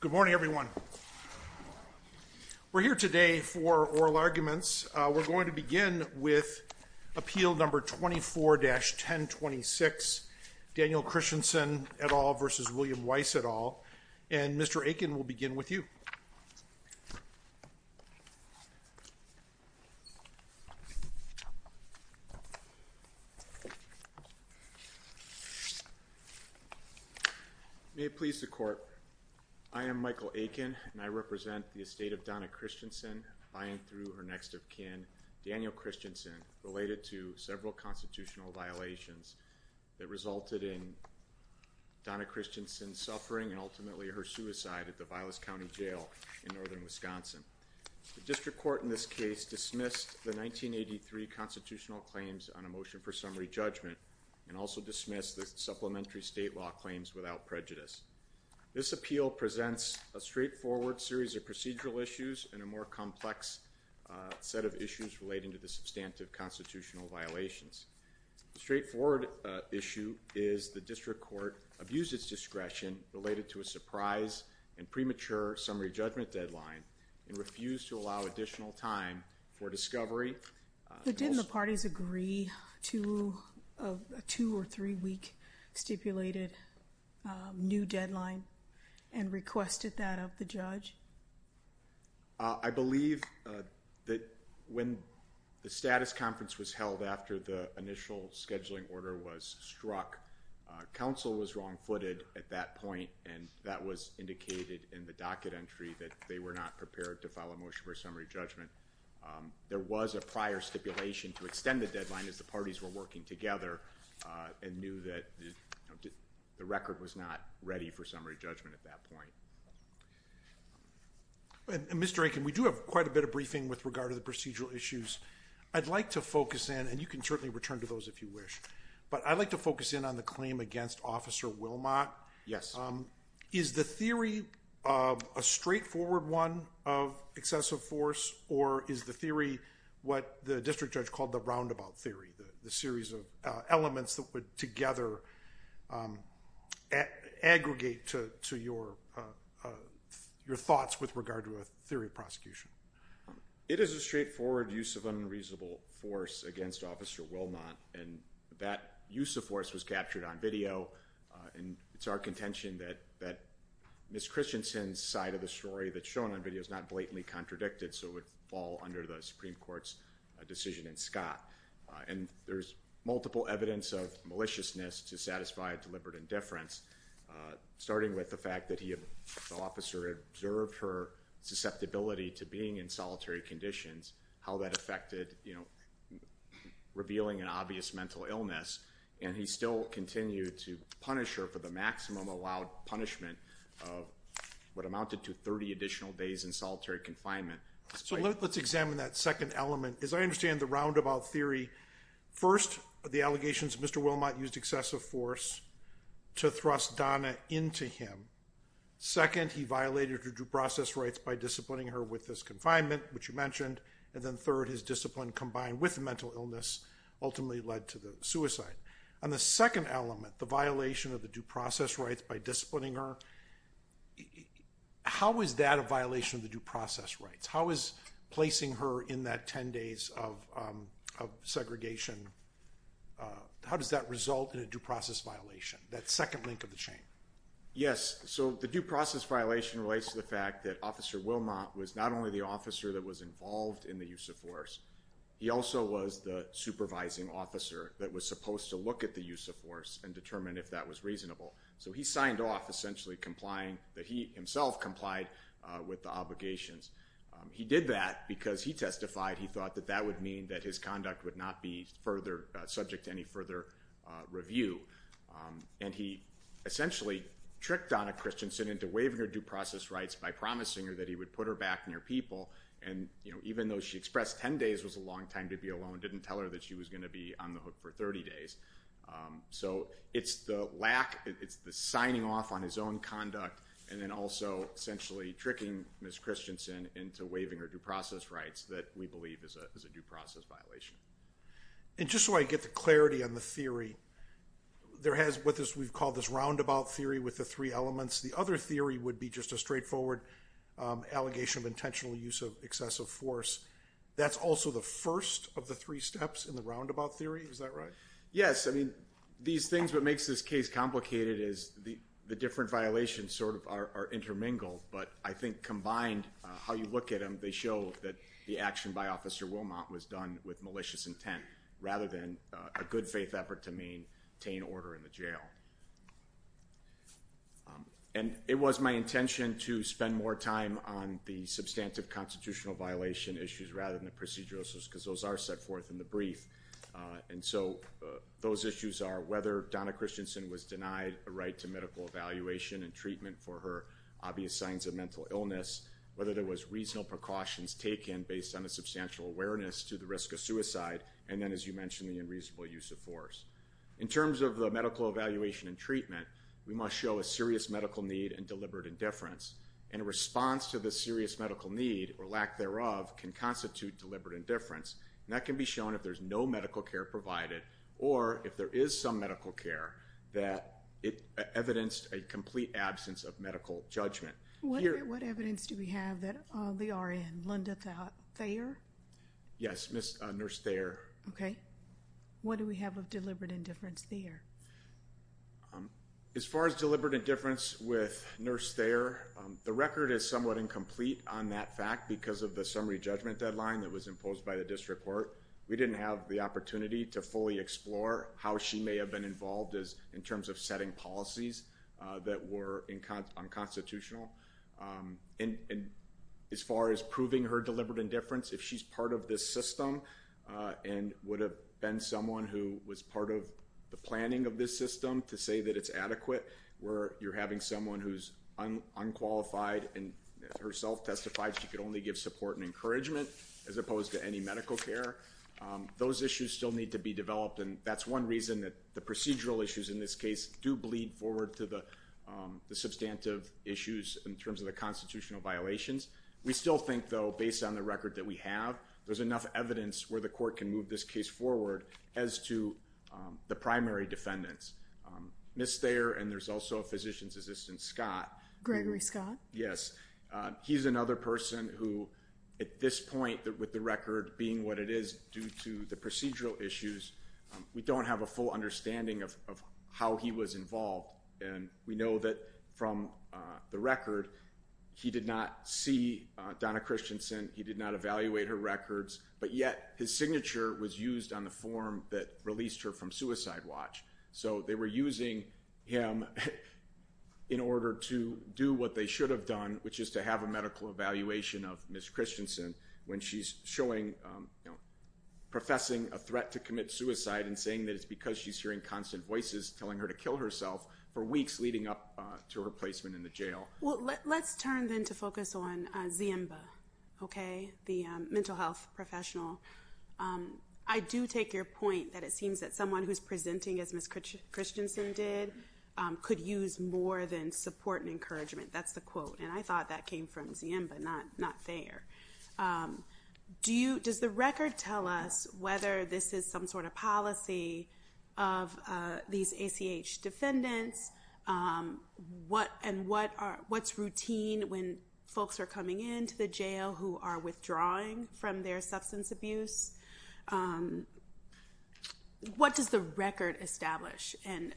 Good morning, everyone. We're here today for oral arguments. We're going to begin with appeal number 24-1026, Daniel Christensen et al. v. William Weiss et al. And Mr. Aiken, we'll begin with you. May it please the Court, I am Michael Aiken, and I represent the estate of Donna Christensen, buying through her next of kin, Daniel Christensen, related to several constitutional violations that resulted in Donna Christensen suffering and ultimately her suicide at the Vilas County Jail in northern Wisconsin. The District Court in this case dismissed the 1983 constitutional claims on a motion for summary judgment and also dismissed the supplementary state law claims without prejudice. This appeal presents a straightforward series of procedural issues and a more complex set of issues relating to the substantive constitutional violations. The straightforward issue is the District Court abused its discretion related to a surprise and premature summary judgment deadline and refused to allow additional time for discovery. But didn't the parties agree to a two- or three-week stipulated new deadline and requested that of the judge? I believe that when the status conference was held after the initial scheduling order was struck, counsel was wrong-footed at that point, and that was indicated in the docket entry that they were not prepared to file a motion for summary judgment. There was a prior stipulation to extend the deadline as the parties were working together and knew that the record was not ready for summary judgment at that point. Mr. Aiken, we do have quite a bit of briefing with regard to the procedural issues. I'd like to focus in, and you can certainly return to those if you wish, but I'd like to focus in on the claim against Officer Wilmot. Is the theory a straightforward one of excessive force, or is the theory what the district judge called the roundabout theory, the series of elements that would together aggregate to your thoughts with regard to a theory of prosecution? It is a straightforward use of unreasonable force against Officer Wilmot, and that use of force was captured on video, and it's our contention that Ms. Christensen's side of the story that's shown on video is not blatantly contradicted, so it would fall under the Supreme Court's decision in Scott, and there's multiple evidence of maliciousness to satisfy deliberate indifference, starting with the fact that the officer observed her susceptibility to being in solitary conditions, how that affected, you know, revealing an obvious mental illness, and he still continued to punish her for the maximum allowed punishment of what amounted to 30 additional days in solitary confinement. So let's examine that second element. As I understand the roundabout theory, first, the allegations Mr. Wilmot used excessive force to thrust Donna into him. Second, he violated her due process rights by disciplining her with his confinement, which you mentioned, and then third, his discipline combined with mental illness ultimately led to the suicide. On the second element, the violation of the due process rights by disciplining her, how is that a violation of the due process rights? How is placing her in that 10 days of segregation, how does that result in a due process violation, that second link of the chain? Yes, so the due process violation relates to the fact that Officer Wilmot was not only the officer that was involved in the use of force, he also was the supervising officer that was supposed to look at the use of force and determine if that was reasonable. So he signed off essentially complying that he himself complied with the obligations. He did that because he testified he thought that that would mean that his conduct would not be further subject to any further review. And he essentially tricked Donna Christensen into waiving her due process rights by promising her that he would put her back near people and, you know, even though she expressed 10 days was a long time to be alone, didn't tell her that she was going to be on the hook for 30 days. So it's the lack, it's the signing off on his own conduct and then also essentially tricking Ms. Christensen into waiving her due process rights that we believe is a due process violation. And just so I get the clarity on the theory, there has what we've called this roundabout theory with the three elements. The other theory would be just a straightforward allegation of intentional use of excessive force. That's also the first of the three steps in the roundabout theory, is that right? Yes, I mean these things, what makes this case complicated is the different violations sort of are intermingled, but I think combined, how you look at them, they show that the action by Officer Wilmot was done with malicious intent rather than a good faith effort to maintain order in the jail. And it was my intention to spend more time on the substantive constitutional violation issues rather than the procedural issues because those are set forth in the brief. And so those issues are whether Donna Christensen was denied a right to medical evaluation and treatment for her obvious signs of mental illness, whether there was reasonable precautions taken based on a substantial awareness to the risk of suicide, and then as you mentioned, the unreasonable use of force. In terms of the medical evaluation and treatment, we must show a serious medical need and deliberate indifference. And a response to the serious medical need or lack thereof can constitute deliberate indifference. And that can be shown if there's no medical care provided or if there is some medical care that it evidenced a complete absence of medical judgment. What evidence do we have that they are in? Linda Thayer? Yes, Nurse Thayer. Okay. What do we have of deliberate indifference there? As far as deliberate indifference with Nurse Thayer, the record is somewhat incomplete on that fact because of the summary judgment deadline that was imposed by the district court. We didn't have the opportunity to fully explore how she may have been involved in terms of setting policies that were unconstitutional. And as far as proving her deliberate indifference, if she's part of this system and would have been someone who was part of the planning of this system to say that it's adequate, where you're having someone who's unqualified and herself testified she could only give support and encouragement as opposed to any medical care, those issues still need to be developed. And that's one reason that the procedural issues in this case do bleed forward to the substantive issues in terms of the constitutional violations. We still think, though, based on the record that we have, there's enough evidence where the court can move this case forward as to the primary defendants. Nurse Thayer and there's also a physician's assistant, Scott. Gregory Scott? Yes. He's another person who, at this point, with the record being what it is due to the procedural issues, we don't have a full understanding of how he was involved. And we know that from the record, he did not see Donna Christensen, he did not evaluate her records, but yet his signature was used on the form that released her from Suicide Watch. So they were using him in order to do what they should have done, which is to have a medical evaluation of Ms. Christensen when she's showing, you know, to commit suicide and saying that it's because she's hearing constant voices telling her to kill herself for weeks leading up to her placement in the jail. Well, let's turn then to focus on Ziemba, okay, the mental health professional. I do take your point that it seems that someone who's presenting as Ms. Christensen did could use more than support and encouragement. That's the quote. And I thought that came from Ziemba, not Thayer. Does the record tell us whether this is some sort of policy of these ACH defendants? And what's routine when folks are coming into the jail who are withdrawing from their substance abuse? What does the record establish? And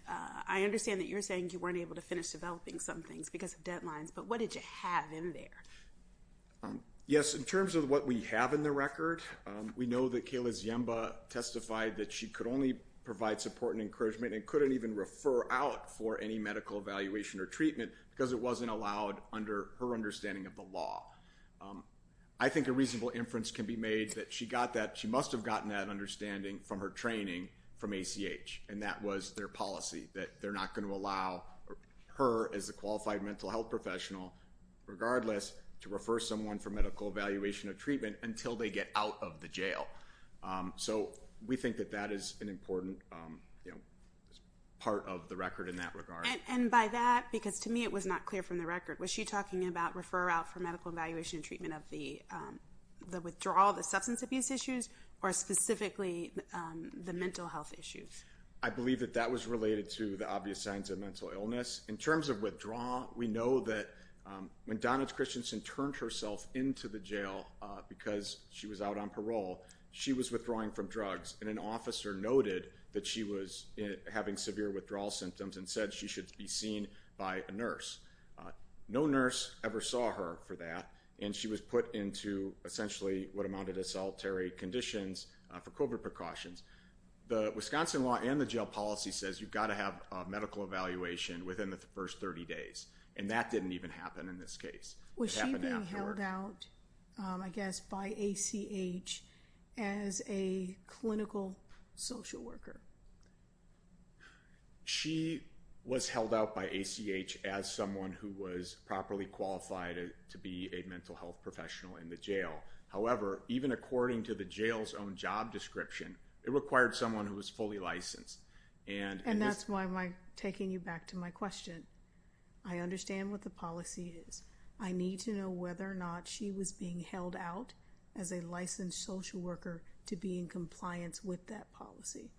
I understand that you're saying you weren't able to finish developing some things because of deadlines, but what did you have in there? Yes, in terms of what we have in the record, we know that Kayla Ziemba testified that she could only provide support and encouragement and couldn't even refer out for any medical evaluation or treatment because it wasn't allowed under her understanding of the law. I think a reasonable inference can be made that she must have gotten that understanding from her training from ACH, and that was their policy that they're not going to allow her as a qualified mental health professional, regardless, to refer someone for medical evaluation or treatment until they get out of the jail. So we think that that is an important part of the record in that regard. And by that, because to me it was not clear from the record, was she talking about refer out for medical evaluation and treatment of the withdrawal, the substance abuse issues, or specifically the mental health issues? I believe that that was related to the obvious signs of mental illness. In terms of when Donna Christensen turned herself into the jail because she was out on parole, she was withdrawing from drugs, and an officer noted that she was having severe withdrawal symptoms and said she should be seen by a nurse. No nurse ever saw her for that, and she was put into essentially what amounted to solitary conditions for COVID precautions. The Wisconsin law and the jail policy says you've got to have a medical evaluation within the first 30 days, and that didn't even happen in this case. Was she being held out, I guess, by ACH as a clinical social worker? She was held out by ACH as someone who was properly qualified to be a mental health professional in the jail. However, even according to the jail's own job description, it required someone who was fully licensed. And that's why I'm taking you back to my question. I understand what the policy is. I need to know whether or not she was being held out as a licensed social worker to be in compliance with that policy.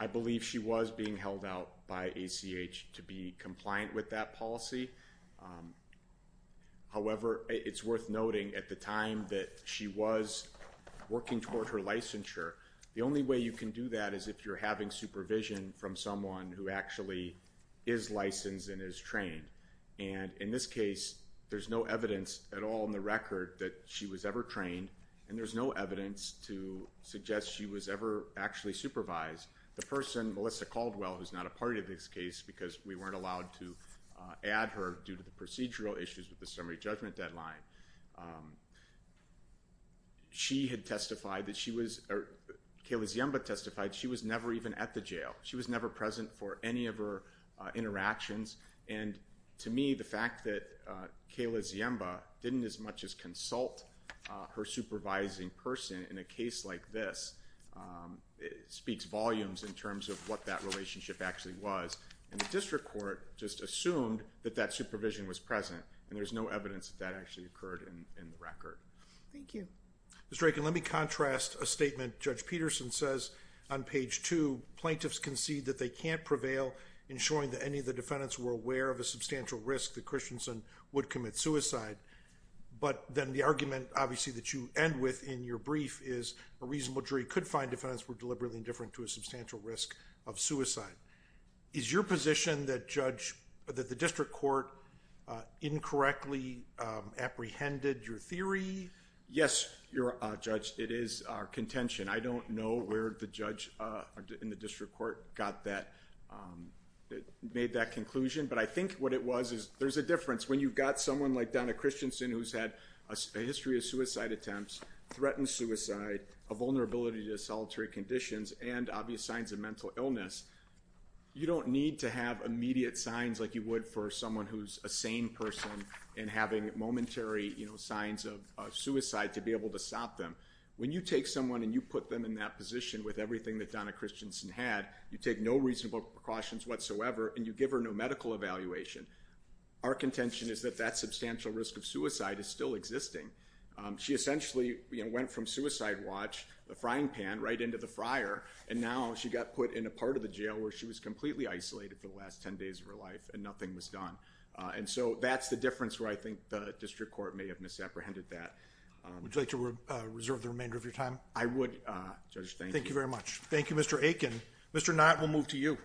I believe she was being held out by ACH to be compliant with that policy. However, it's worth noting at the time that she was working toward her licensure, the only way you can do that is if you're having supervision from someone who actually is licensed and is trained. And in this case, there's no evidence at all in the record that she was ever trained, and there's no evidence to suggest she was ever actually supervised. The person, Melissa Caldwell, who's not a part of this case because we weren't allowed to add her due to the procedural issues with the summary judgment deadline, Kayla Ziemba testified she was never even at the jail. She was never present for any of her interactions. And to me, the fact that Kayla Ziemba didn't as much as consult her supervising person in a case like this speaks volumes in terms of what that relationship actually was. And the district court just assumed that that supervision was present, and there's no evidence that that actually occurred in the record. Thank you. Mr. Aiken, let me contrast a statement Judge Peterson says on page two. Plaintiffs concede that they can't prevail in showing that any of the defendants were aware of a substantial risk that Christensen would commit suicide. But then the argument, obviously, that you end with in your brief is a reasonable jury could find defendants were deliberately indifferent to a substantial risk of suicide. Is your position that the district court incorrectly apprehended your theory? Yes, Judge, it is our contention. I don't know where the judge in the district court got that, made that conclusion. But I think what it was is there's a difference when you've got someone like Donna Christensen who's had a history of suicide attempts, threatened suicide, a vulnerability to solitary conditions, and obvious signs of mental illness. You don't need to have immediate signs like you would for someone who's a sane person and having momentary signs of suicide to be able to stop them. When you take someone and you put them in that position with everything that Donna Christensen had, you take no reasonable precautions whatsoever, and you give her no medical evaluation. Our contention is that that substantial risk of suicide is still existing. She essentially went from suicide watch, the frying pan, right into the fryer. And now she got put in a part of the jail where she was completely isolated for the last 10 days of her life and nothing was done. And so that's the difference where I think the district court may have misapprehended that. Would you like to reserve the remainder of your time? I would, Judge, thank you. Thank you very much. Thank you, Mr. Aiken. Mr. Knott, we'll move to you.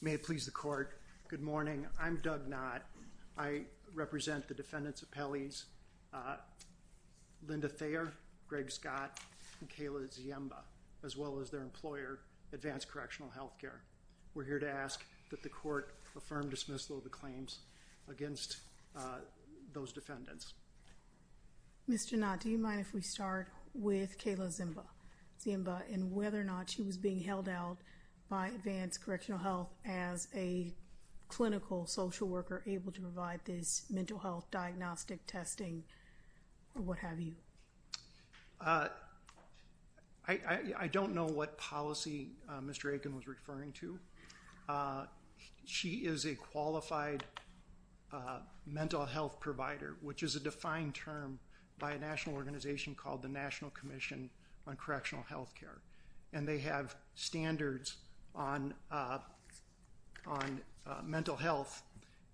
May it please the court. Good morning. I'm Doug Knott. I represent the defendants of Pelley's, Linda Thayer, Greg Scott, and Kayla Ziemba, as well as their employer, Advanced Correctional Healthcare. We're here to ask that the court affirm dismissal of the claims against those defendants. Mr. Knott, do you mind if we start with Kayla Ziemba and whether or not she was being held out by Advanced Correctional Health as a clinical social worker able to provide this mental health diagnostic testing or what have you? I don't know what policy Mr. Aiken was referring to. She is a qualified mental health provider, which is a defined term by a national organization called the National Commission on Correctional Healthcare. And they have standards on mental health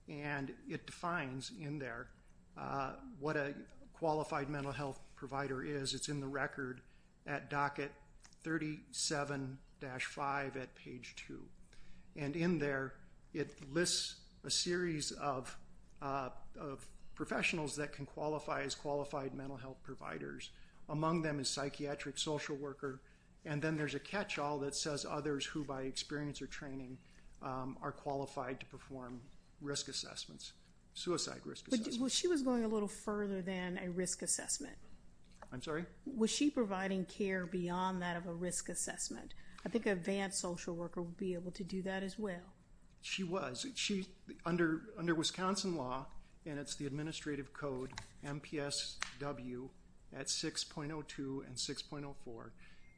and it defines in there what a qualified mental health provider is. It's in record at docket 37-5 at page 2. And in there, it lists a series of professionals that can qualify as qualified mental health providers. Among them is psychiatric social worker and then there's a catch-all that says others who by experience or training are qualified to perform risk assessments, suicide risk assessments. Well, she was going a little further than a risk assessment. I'm sorry? Was she providing care beyond that of a risk assessment? I think an advanced social worker would be able to do that as well. She was. Under Wisconsin law and it's the administrative code MPSW at 6.02 and 6.04,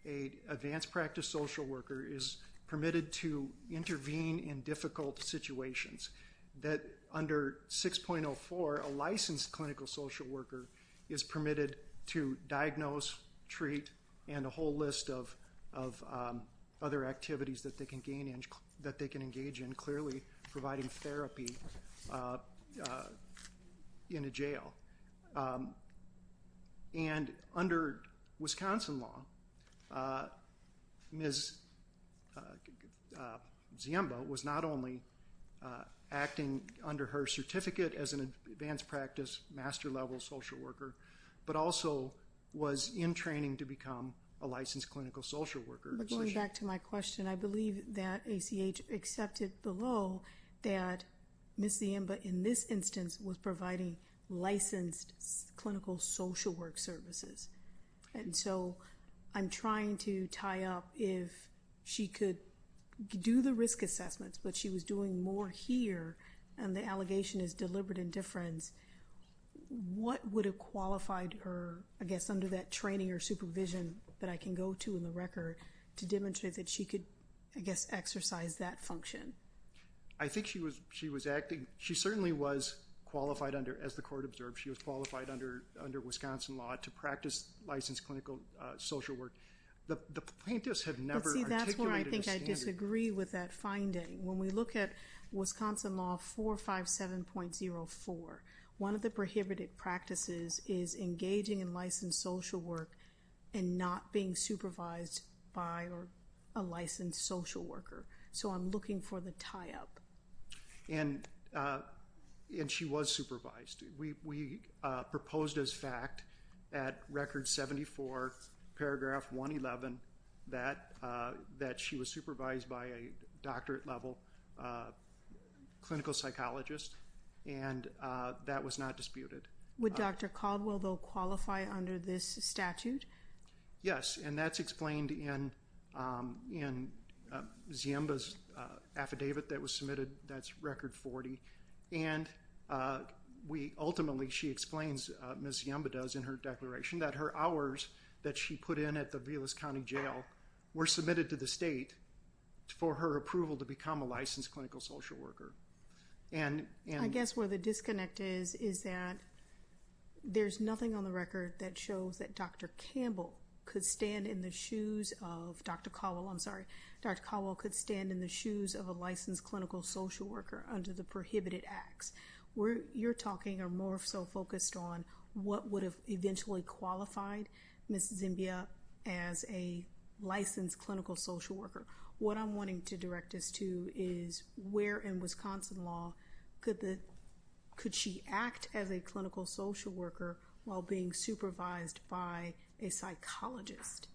an advanced practice social worker is permitted to intervene in difficult situations. That under 6.04, a licensed clinical social worker is permitted to diagnose, treat, and a whole list of other activities that they can engage in clearly providing therapy in a jail. And under Wisconsin law, Ms. Ziemba was not only acting under her certificate as an advanced practice master level social worker but also was in training to become a licensed clinical social worker. Going back to my question, I believe that ACH accepted below that Ms. Ziemba in this instance was providing licensed clinical social work services. And so, I'm trying to tie up if she could do the risk assessments but she was doing more here and the allegation is deliberate indifference, what would have qualified her, I guess, under that training or supervision that I can go to in the record to demonstrate that she could, I guess, exercise that function? I think she was acting, she certainly was qualified under, as the court observed, she was qualified under Wisconsin law to practice licensed clinical social work. The plaintiffs have never articulated a standard. But see, that's where I think I disagree with that finding. When we look at Wisconsin law 457.04, one of the prohibited practices is engaging in licensed social work and not being supervised by a licensed social worker. So, I'm looking for the tie-up. And she was supervised. We proposed as fact at record 74 paragraph 111 that she was supervised by a doctorate level clinical psychologist and that was not disputed. Would Dr. Caldwell, though, agree with this statute? Yes, and that's explained in in Ziemba's affidavit that was submitted. That's record 40. And we ultimately, she explains, Ms. Ziemba does in her declaration, that her hours that she put in at the Vilas County Jail were submitted to the state for her approval to become a licensed clinical social worker. And I guess where the disconnect is, is that there's nothing on the record that shows that Dr. Campbell could stand in the shoes of Dr. Caldwell, I'm sorry, Dr. Caldwell could stand in the shoes of a licensed clinical social worker under the prohibited acts. Where you're talking are more so focused on what would have eventually qualified Ms. Ziemba as a licensed clinical social worker. What I'm wanting to direct us to is where in Wisconsin law could she act as a clinical social worker while being supervised by a psychologist?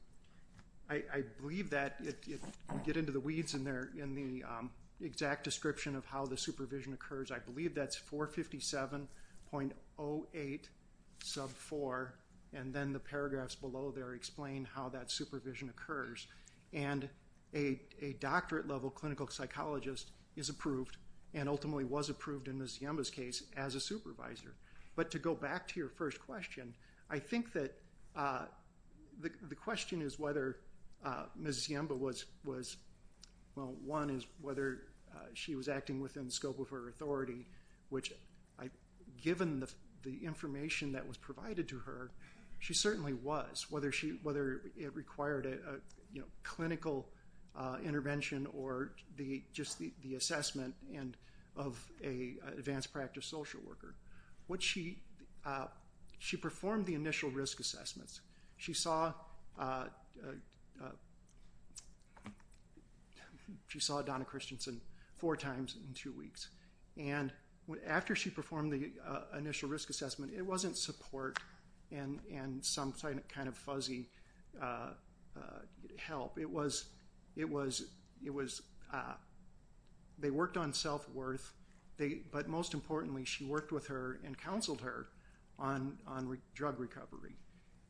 I believe that, if we get into the weeds in there, in the exact description of how the supervision occurs, I believe that's 457.08 sub 4 and then the paragraphs below there explain how that supervision occurs. And a doctorate level clinical psychologist is approved and ultimately was approved in Ms. Ziemba's case as a supervisor. But to go back to your first question, I think that the question is whether Ms. Ziemba was, well one is whether she was acting within the scope of her authority, which given the information that was provided to her, she certainly was. Whether it required a clinical intervention or just the assessment of an advanced practice social worker. She performed the initial risk assessments. She saw Donna Christensen four times in two weeks. And after she performed the initial risk assessment, it wasn't support and some kind of fuzzy help. It was, they worked on self-worth, but most importantly she worked with her and counseled her on drug recovery.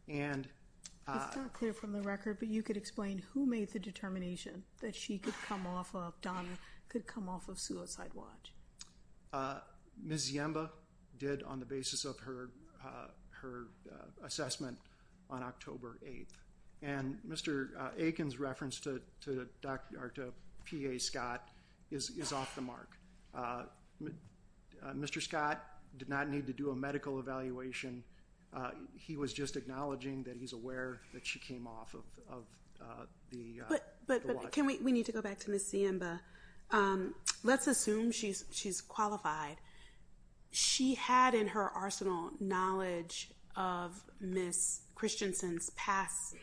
It's not clear from the record, but you could explain who made the determination that she could come off of, Donna could come off of Suicide Watch? Ms. Ziemba did on the basis of her assessment on October 8th. And Mr. Aiken's reference to PA Scott is off the mark. Mr. Scott did not need to do a medical evaluation. He was just acknowledging that he's aware that she came off of the watch. We need to go back to Ms. Ziemba. Let's assume she's qualified. She had in her arsenal knowledge of Ms. Christensen's past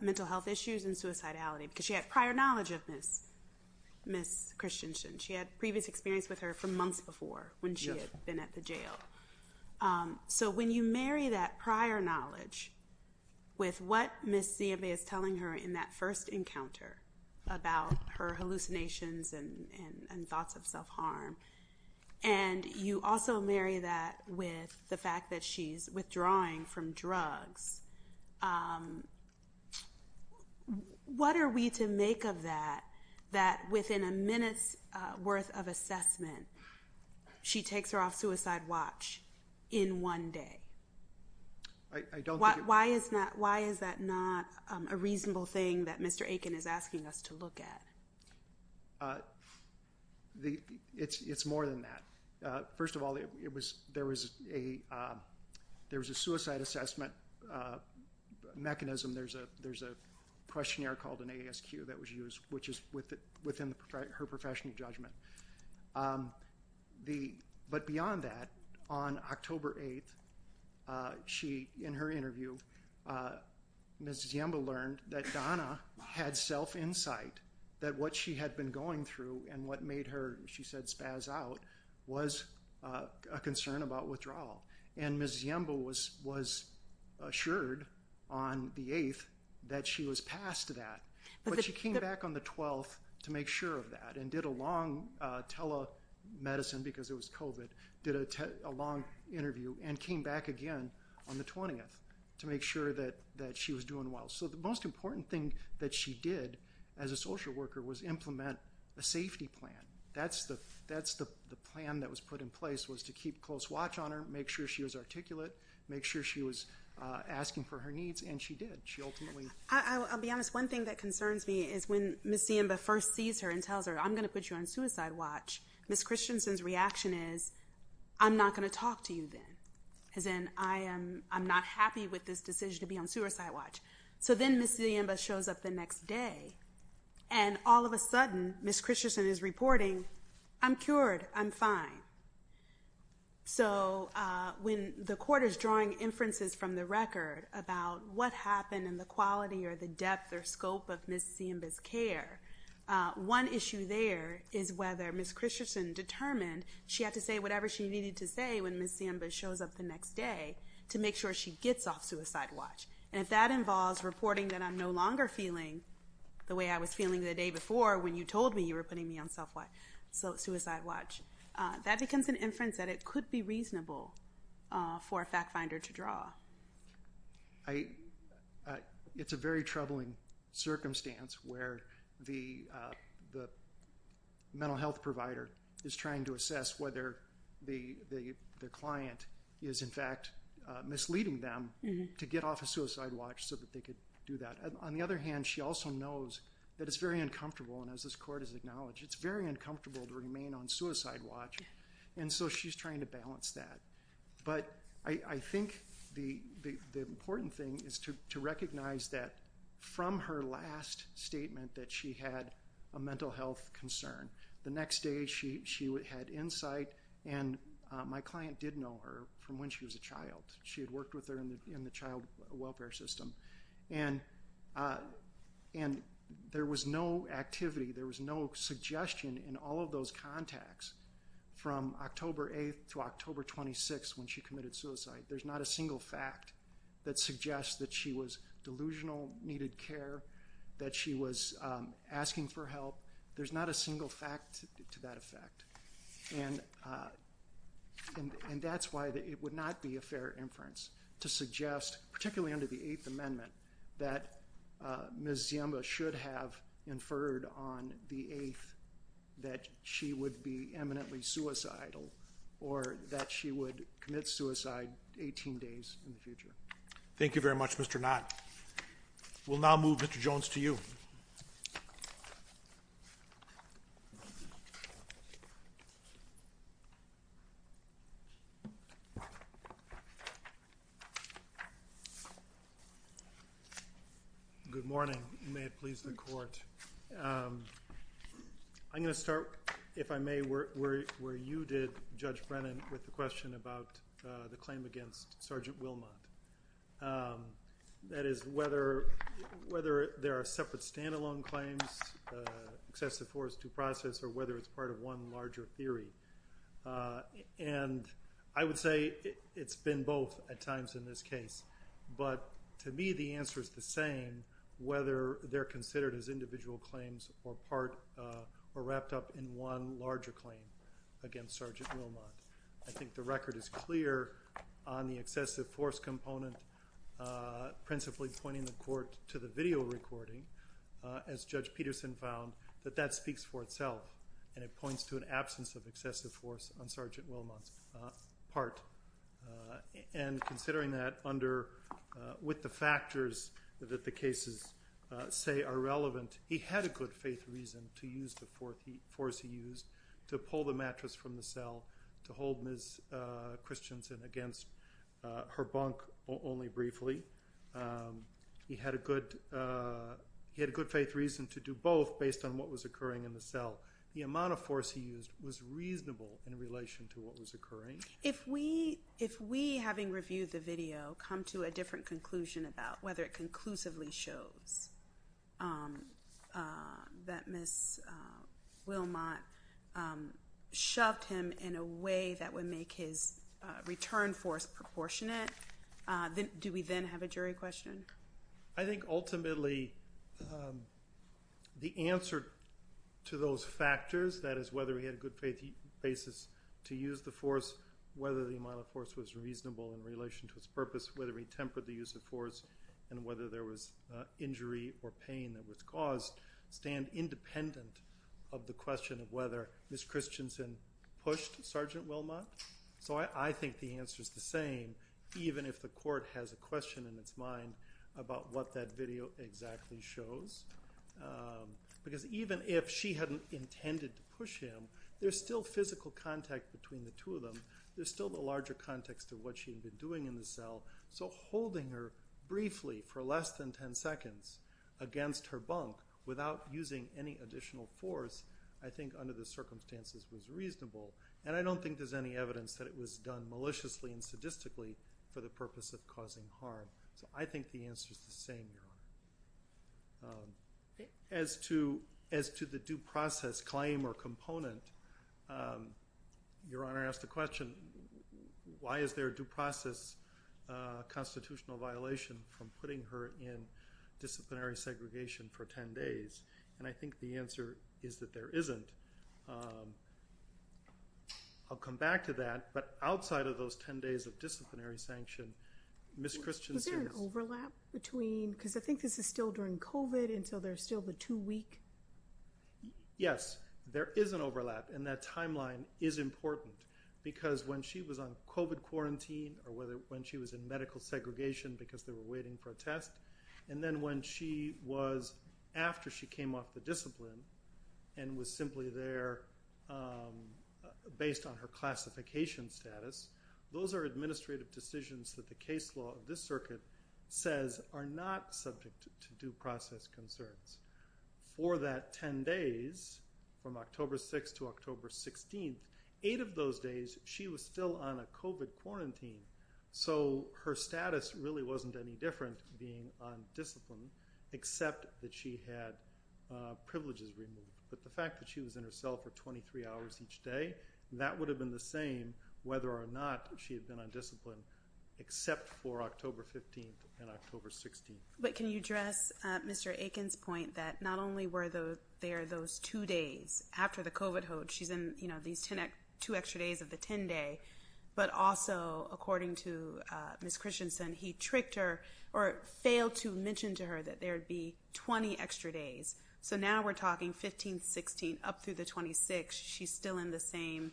mental health issues and suicidality because she had prior knowledge of Ms. Christensen. She had previous experience with her for months before when she had been at the jail. So when you marry that prior knowledge with what Ms. Ziemba is telling her in that first encounter about her hallucinations and thoughts of self-harm, and you also marry that with the fact that she's withdrawing from drugs, what are we to make of that, that within a minute's worth of assessment she takes her off Suicide Watch in one day? Why is that not a reasonable thing that Mr. Aiken is asking us to look at? It's more than that. First of all, there was a suicide assessment mechanism. There's a questionnaire called an ASQ that was used, which is within her professional judgment. But beyond that, on October 8th, in her interview, Ms. Ziemba learned that Donna had self-insight, that what she had been going through and what made her, she said, spaz out was a concern about withdrawal. And Ms. Ziemba was assured on the 8th that she was past that. But she came back on the 12th to make sure of that and did a long tele-medicine, because it was COVID, did a long interview, and came back again on the 20th to make sure that she was doing well. So the most important thing that she did as a social worker was implement a safety plan. That's the plan that was put in place, was to keep close watch on her, make sure she was articulate, make sure she was asking for her needs, and she did. I'll be honest, one thing that concerns me is when Ms. Ziemba first sees her and tells her, I'm going to put you on suicide watch, Ms. Christensen's reaction is, I'm not going to talk to you then. As in, I'm not happy with this decision to be on suicide watch. So then Ms. Ziemba shows up the next day and all of a sudden, Ms. Christensen is reporting, I'm cured. I'm fine. So when the court is drawing depth or scope of Ms. Ziemba's care, one issue there is whether Ms. Christensen determined she had to say whatever she needed to say when Ms. Ziemba shows up the next day to make sure she gets off suicide watch. And if that involves reporting that I'm no longer feeling the way I was feeling the day before when you told me you were putting me on suicide watch, that becomes an inference that it could be reasonable for a fact finder to draw. It's a very troubling circumstance where the mental health provider is trying to assess whether the client is, in fact, misleading them to get off a suicide watch so that they could do that. On the other hand, she also knows that it's very uncomfortable, and as this court has acknowledged, it's very uncomfortable to remain on suicide watch. And so she's trying to balance that. But I think the important thing is to recognize that from her last statement that she had a mental health concern, the next day she had insight and my client did know her from when she was a child. She had worked with her in the child welfare system. And there was no activity, there was no suggestion in all of those contacts from October 8th to October 26th when she committed suicide. There's not a single fact that suggests that she was delusional, needed care, that she was asking for help. There's not a single fact to that effect. And that's why it would not be a fair inference to suggest, particularly under the Eighth Amendment, that Ms. Ziemba should have conferred on the 8th that she would be eminently suicidal or that she would commit suicide 18 days in the future. Thank you very much, Mr. Knott. We'll now move Mr. Jones to you. Good morning. May it please the Court. I'm going to start, if I may, where you did, Judge Brennan, with the question about the claim against Sergeant Wilmot. That is, whether there are separate standalone claims, excessive force due process, or whether it's part of one larger theory. And I would say it's been both at times in this case. But to me, the answer is the same, whether they're considered as individual claims or wrapped up in one larger claim against Sergeant Wilmot. I think the record is clear on the excessive force component, principally pointing the Court to the video recording, as Judge Peterson found, that that speaks for itself. And it points to an absence of excessive force on Sergeant Wilmot's part. And considering that with the factors that the cases say are relevant, he had a good faith reason to use the force he used to pull the mattress from the cell to hold Ms. Christensen against her bunk only briefly. He had a good faith reason to do both based on what was occurring in the cell. The amount of force he used was reasonable in relation to what was occurring. If we, having reviewed the video, come to a different conclusion about whether it conclusively shows that Ms. Wilmot shoved him in a way that would make his return force proportionate, do we then have a jury question? I think ultimately, the answer to those factors, that is whether he had a good faith basis to use the force, whether the amount of force was reasonable in relation to its purpose, whether he tempered the use of force, and whether there was injury or pain that was caused, stand independent of the question of whether Ms. Christensen pushed Sergeant Wilmot. So I think the answer is the same, even if the Court has a question in its mind about what that video exactly shows. Because even if she hadn't intended to push him, there's still physical contact between the two of them. There's still the larger context of what holding her briefly for less than 10 seconds against her bunk without using any additional force, I think under the circumstances was reasonable. And I don't think there's any evidence that it was done maliciously and sadistically for the purpose of causing harm. So I think the answer is the same, Your Honor. As to the due process claim or component, Your Honor asked the question, why is there a due process constitutional violation from putting her in disciplinary segregation for 10 days? And I think the answer is that there isn't. I'll come back to that. But outside of those 10 days of disciplinary sanction, Ms. Christensen- Was there an overlap between... Because I think this is still during COVID, and so there's still a two-week... Yes, there is an overlap. And that timeline is important. Because when she was on COVID quarantine, or when she was in medical segregation because they were waiting for a test, and then when she was after she came off the discipline and was simply there based on her classification status, those are administrative decisions that the case law of says are not subject to due process concerns. For that 10 days, from October 6 to October 16, eight of those days, she was still on a COVID quarantine. So her status really wasn't any different being on discipline, except that she had privileges removed. But the fact that she was in her cell for 23 hours each day, that would have been the same whether or not she had been on 15th, 16th, and October 15th and October 16th. But can you address Mr. Aiken's point that not only were there those two days after the COVID hoax, she's in these two extra days of the 10 day, but also according to Ms. Christensen, he tricked her or failed to mention to her that there'd be 20 extra days. So now we're talking 15th, 16th, up through the 26th, she's still in the same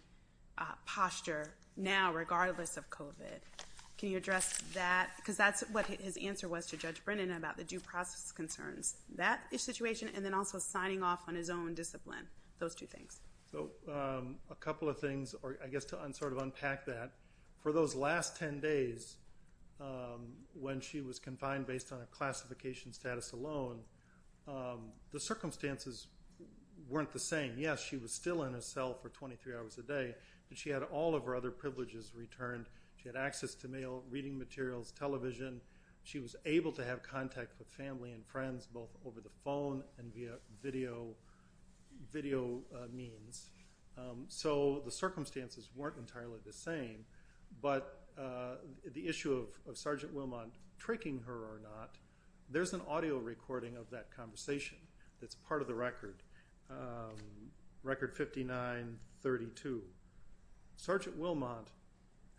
posture now regardless of COVID. Can you address that? Because that's what his answer was to Judge Brennan about the due process concerns, that situation, and then also signing off on his own discipline, those two things. So a couple of things, or I guess to sort of unpack that, for those last 10 days when she was confined based on a classification status alone, the circumstances weren't the same. Yes, she was still in a cell for 23 hours a day, but she had all of her other privileges returned. She had access to mail, reading materials, television. She was able to have contact with family and friends both over the phone and via video means. So the circumstances weren't entirely the same, but the issue of Sergeant Wilmot tricking her or not, there's an audio recording of that conversation that's part of the record, record 59-32. Sergeant Wilmot,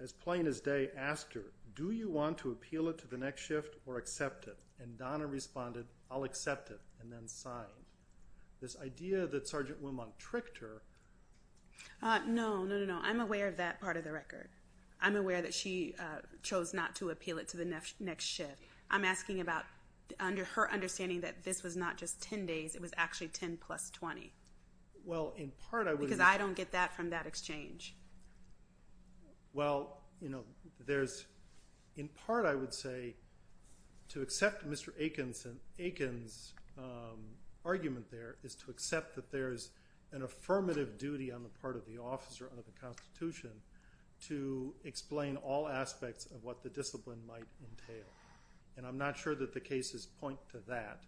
as plain as day, asked her, do you want to appeal it to the next shift or accept it? And Donna responded, I'll accept it and then sign. This idea that Sergeant Wilmot tricked her... No, no, no, no. I'm aware of that part of the record. I'm aware that she chose not to appeal it to the next shift. I'm asking about her understanding that this was not just 10 days, it was actually 10 plus 20. Because I don't get that from that exchange. Well, in part I would say to accept Mr. Aiken's argument there is to accept that there's an affirmative duty on the part of the officer under the Constitution to explain all aspects of what the discipline might entail. And I'm not sure that the cases point to that.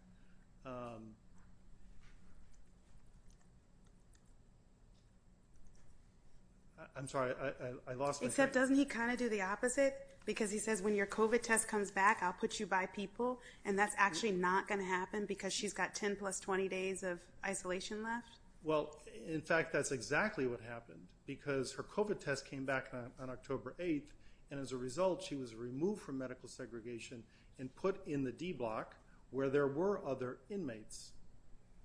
I'm sorry, I lost my train of thought. Except doesn't he kind of do the opposite? Because he says when your COVID test comes back, I'll put you by people. And that's actually not going to happen because she's got 10 plus 20 days of isolation left. Well, in fact, that's exactly what happened because her COVID test came back on October 8th. And as a result, she was removed from medical segregation and put in the D block where there were other inmates.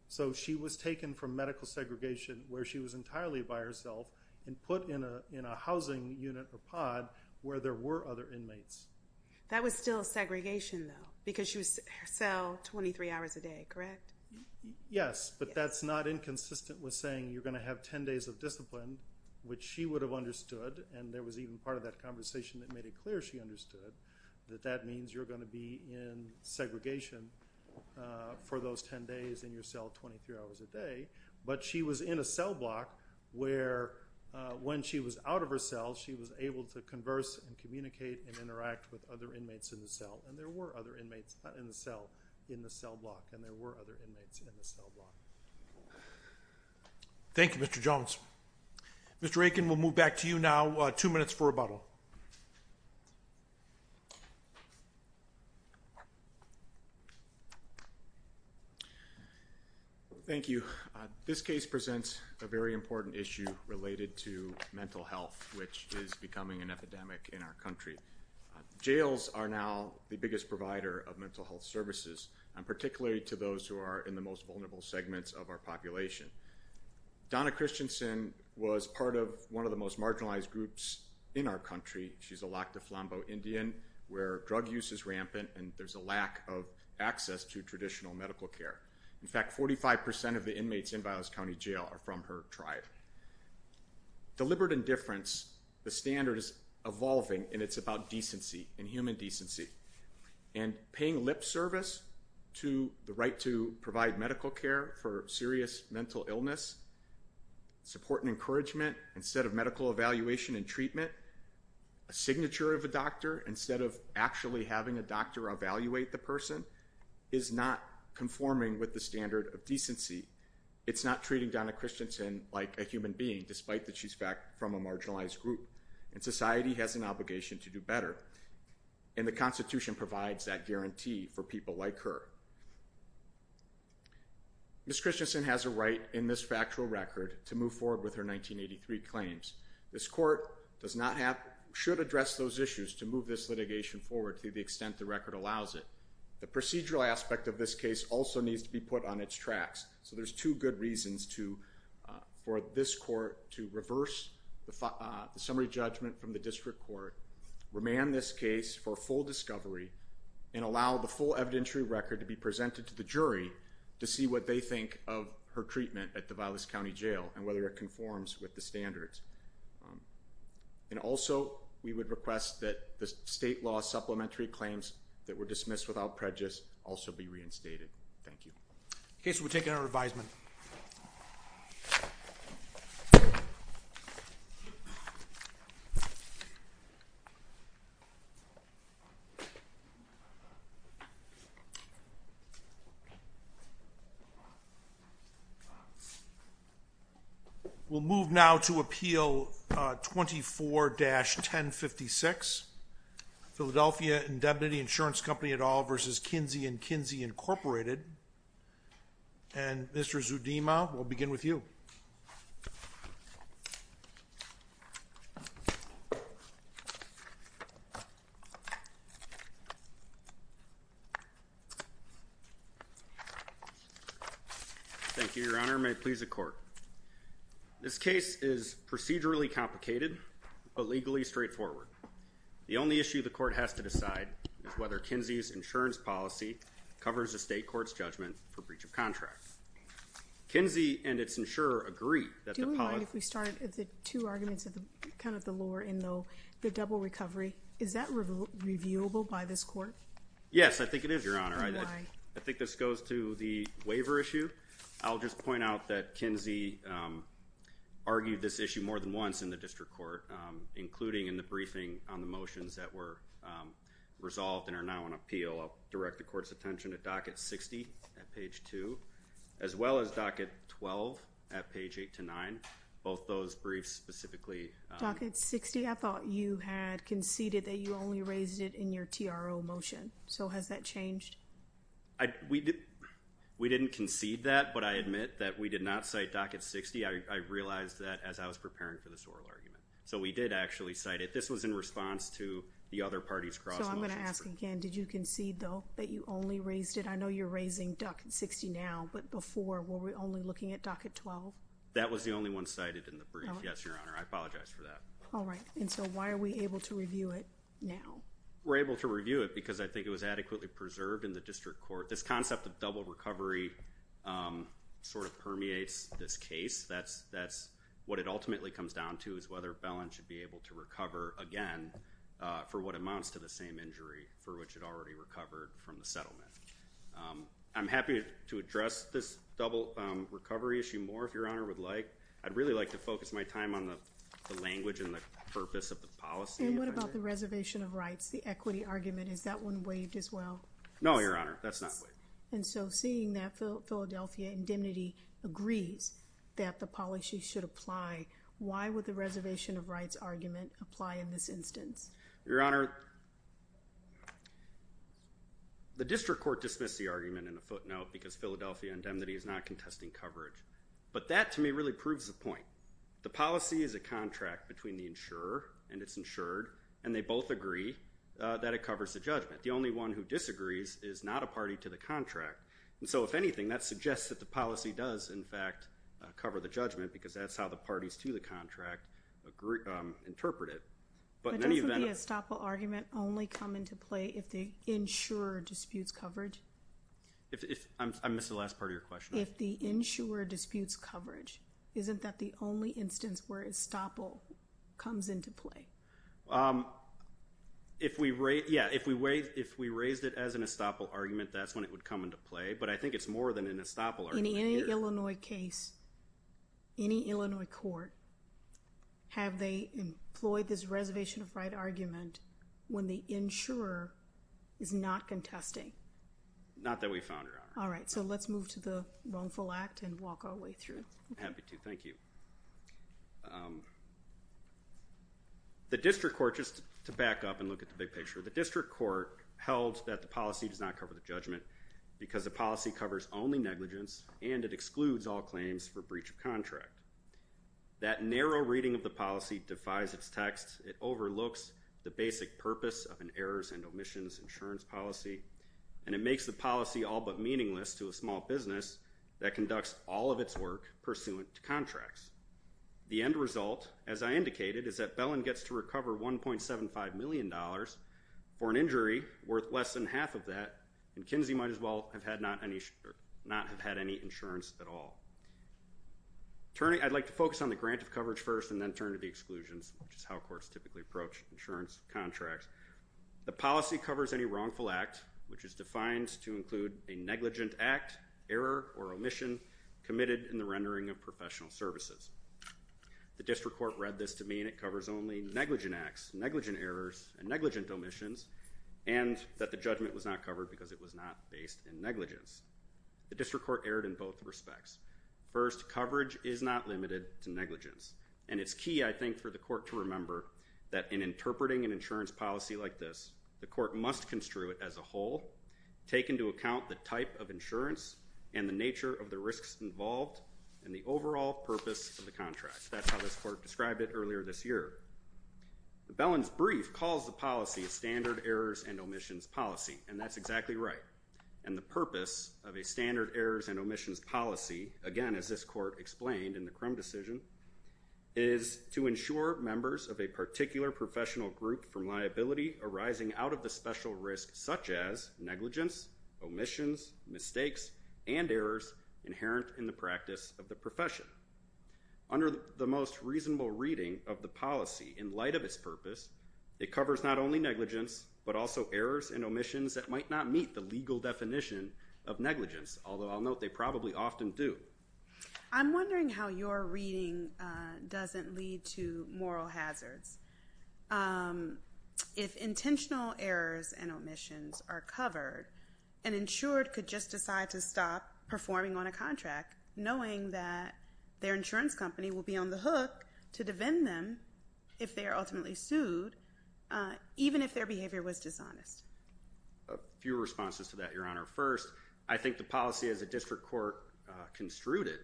So she was taken from medical segregation where she was entirely by herself and put in a housing unit or pod where there were other inmates. That was still segregation though, because she was her cell 23 hours a day, correct? Yes, but that's not inconsistent with saying you're going to have 10 days of discipline, which she would have understood. And there was even part of that conversation that made it clear she understood that that means you're going to be in segregation for those 10 days in your cell 23 hours a day. But she was in a cell block where when she was out of her cell, she was able to converse and communicate and interact with other inmates in the cell. And there were other inmates in the cell, in the cell block, and there were other inmates in the cell block. Thank you, Mr. Jones. Mr. Aiken, we'll move back to you now. Two minutes for rebuttal. Thank you. This case presents a very important issue related to mental health, which is becoming an epidemic in our country. Jails are now the biggest provider of mental health services, and particularly to those who are in the most vulnerable segments of our population. Donna Christensen was part of one of the most marginalized groups in our country. She's a Lac du Flambeau Indian, where drug use is rampant and there's a lack of access to traditional medical care. In fact, 45 percent of the inmates in Biola's County Jail are from her tribe. Deliberate indifference, the standard is evolving, and it's about decency and human decency. And paying lip service to the right to provide medical care for serious mental illness, support and encouragement, instead of medical evaluation and treatment, a signature of a doctor instead of actually having a doctor evaluate the person, is not conforming with the standard of decency. It's not treating Donna Christensen like a human being, despite that she's from a marginalized group. And society has an obligation to do better, and the Constitution provides that guarantee for people like her. Ms. Christensen has a right in this factual record to move forward with her 1983 claims. This court should address those issues to move this litigation forward to the extent the record allows it. The procedural aspect of this case also needs to be put on its tracks. So there's two good reasons for this court to reverse the summary judgment from the district court, remand this case for full discovery, and allow the full evidentiary record to be presented to the jury to see what they think of her treatment at the Biola's County Jail, and whether it conforms with the standards. And also, we would request that the state law supplementary claims that were dismissed without prejudice also be reinstated. Thank you. Okay, so we're taking our advisement. We'll move now to Appeal 24-1056, Philadelphia Indemnity Insurance Company et al. v. Kinsey Incorporated. And Mr. Zudima, we'll begin with you. Thank you, Your Honor. May it please the court. This case is procedurally complicated, but legally straightforward. The only issue the court has to decide is whether Kinsey's policy covers the state court's judgment for breach of contract. Kinsey and its insurer agree that the policy... Do you mind if we start at the two arguments of the kind of the lower end, the double recovery. Is that reviewable by this court? Yes, I think it is, Your Honor. I think this goes to the waiver issue. I'll just point out that Kinsey argued this issue more than once in the district court, including in the briefing on the motions that were resolved and are now on appeal. I'll direct the court's attention to Docket 60 at page 2, as well as Docket 12 at page 8-9, both those briefs specifically. Docket 60, I thought you had conceded that you only raised it in your TRO motion. So has that changed? We didn't concede that, but I admit that we did not cite Docket 60. I realized that as I was preparing for this oral argument. So we did actually cite it. This was in response to the other parties' cross-motions. So I'm going to ask again, did you concede, though, that you only raised it? I know you're raising Docket 60 now, but before, were we only looking at Docket 12? That was the only one cited in the brief, yes, Your Honor. I apologize for that. All right. And so why are we able to review it now? We're able to review it because I think it was adequately preserved in the district court. This concept of double recovery sort of permeates this case. That's what it ultimately comes down to is whether Bellin should be able to recover again for what amounts to the same injury for which it already recovered from the settlement. I'm happy to address this double recovery issue more if Your Honor would like. I'd really like to focus my time on the language and the purpose of the policy. And what about the reservation of rights, the equity argument? Is that one waived as well? No, Your Honor, that's not waived. And so seeing that Philadelphia Indemnity agrees that the policy should apply, why would the reservation of rights argument apply in this instance? Your Honor, the district court dismissed the argument in a footnote because Philadelphia Indemnity is not contesting coverage. But that, to me, really proves the point. The policy is a contract between the insurer and its insured, and they both agree that it covers the judgment. The only one who disagrees is not a party to the contract. And so if anything, that suggests that the policy does, in fact, cover the judgment because that's how the parties to the contract interpret it. But in any event... But doesn't the estoppel argument only come into play if the insurer disputes coverage? I missed the last part of your question. If the insurer disputes coverage, isn't that the only instance where estoppel comes into play? If we raised it as an estoppel argument, that's when it would come into play. But I think it's more than an estoppel argument. In any Illinois case, any Illinois court, have they employed this reservation of right argument when the insurer is not contesting? Not that we found, Your Honor. All right. So let's move to the wrongful act and walk our way through it. Happy to. Thank you. The district court, just to back up and look at the big picture, the district court held that the policy does not cover the judgment because the policy covers only negligence and it excludes all claims for breach of contract. That narrow reading of the policy defies its text. It overlooks the basic purpose of an errors and omissions insurance policy, and it makes the policy all but meaningless to a small business that conducts all of its work pursuant to contracts. The end result, as I indicated, is that Bellin gets to recover $1.75 million for an injury worth less than half of that, and Kinsey might as well not have had any insurance at all. I'd like to focus on the grant of coverage first and then turn to the exclusions, which is how courts typically approach insurance contracts. The policy covers any wrongful act, which is defined to include a negligent act, error, or omission committed in the rendering of professional services. The district court read this to mean it covers only negligent acts, negligent errors, and negligent omissions, and that the judgment was not covered because it was not based in negligence. The district court erred in both respects. First, coverage is not limited to negligence, and it's key, I think, for the court to remember that in interpreting an insurance policy like this, the court must construe it as a whole, take into account the type of insurance and the nature of the risks involved and the overall purpose of the contract. That's how this court described it earlier this year. The Bellin's brief calls the policy a standard errors and omissions policy, and that's exactly right, and the purpose of a standard errors and omissions policy, again, as this court explained in the Crum decision, is to ensure members of a particular professional group from liability arising out of the special risk such as negligence, omissions, mistakes, and errors inherent in the practice of the profession. Under the most reasonable reading of the policy in light of its purpose, it covers not only negligence but also errors and omissions that might not meet the legal definition of negligence, although I'll note they probably often do. I'm wondering how your reading doesn't lead to moral hazards. If intentional errors and omissions are covered, an insured could just decide to stop performing on a contract knowing that their insurance company will be on the hook to defend them if they are ultimately sued, even if their behavior was dishonest. A few responses to that, Your Honor. First, I think the policy as a district court construed it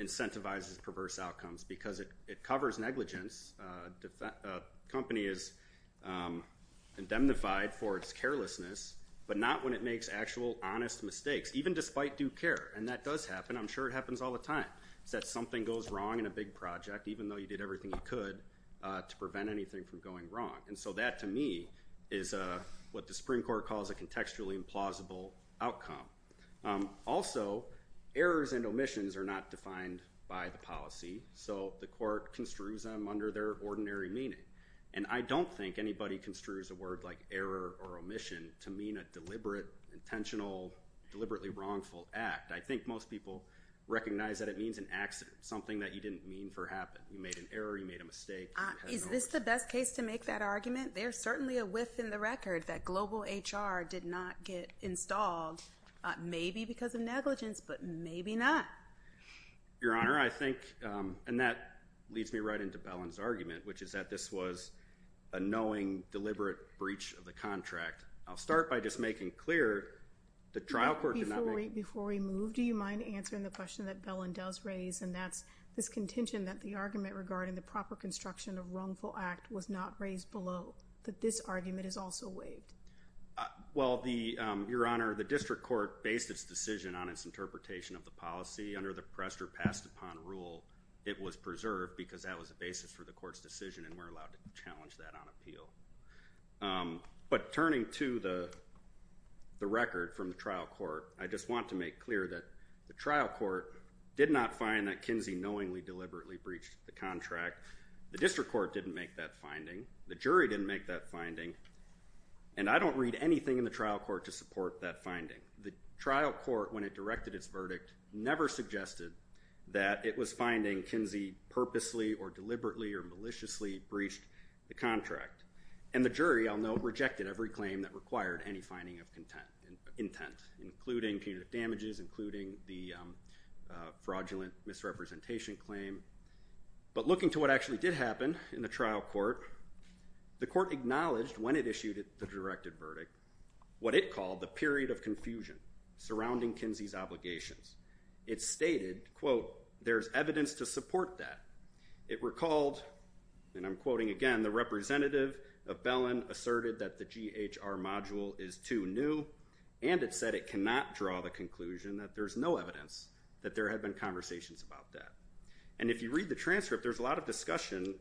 incentivizes perverse outcomes because it covers negligence. A company is indemnified for its carelessness, but not when it makes actual honest mistakes, even despite due care, and that does happen. I'm sure it happens all the time, is that something goes wrong in a big project, even though you did everything you could to prevent anything from going wrong, and so that, to me, is what the Supreme Court calls a contextually implausible outcome. Also, errors and omissions are not defined by the policy, so the court construes them under their ordinary meaning, and I don't think anybody construes a word like error or omission to mean a deliberate, intentional, deliberately wrongful act. I think most people recognize that it means an accident, something that you didn't mean for to happen. You made an error. You made a mistake. Is this the best case to make that argument? There's certainly a whiff in the record that global HR did not get installed, maybe because of negligence, but maybe not. Your Honor, I think, and that leads me right into Bellin's argument, which is that this was a knowing, deliberate breach of the contract. I'll start by just making clear the trial court did not make... Before we move, do you mind answering the question that Bellin does raise, and that's this contention that the argument regarding the proper construction of wrongful act was not raised below, that this argument is also made? Well, Your Honor, the district court based its decision on its interpretation of the policy under the pressed or passed upon rule. It was preserved because that was the basis for the court's decision, and we're allowed to challenge that on appeal. But turning to the record from the trial court, I just want to make clear that the trial court did not find that Kinsey knowingly, deliberately breached the contract. The district court didn't make that finding. The jury didn't make that finding, and I don't read anything in the trial court to support that finding. The trial court, when it directed its verdict, never suggested that it was finding Kinsey purposely, or deliberately, or maliciously breached the contract. And the jury, I'll note, rejected every claim that required any finding of intent, including punitive damages, including the fraudulent misrepresentation claim. But looking to what actually did happen in the trial court, the court acknowledged, when it issued the directed verdict, what it called the period of confusion surrounding Kinsey's obligations. It stated, quote, there's evidence to support that. It recalled, and I'm quoting again, the representative of Bellin asserted that the GHR module is too new, and it said it cannot draw the conclusion that there's no evidence that there had been conversations about that. And if you read the transcript, there's a lot of discussion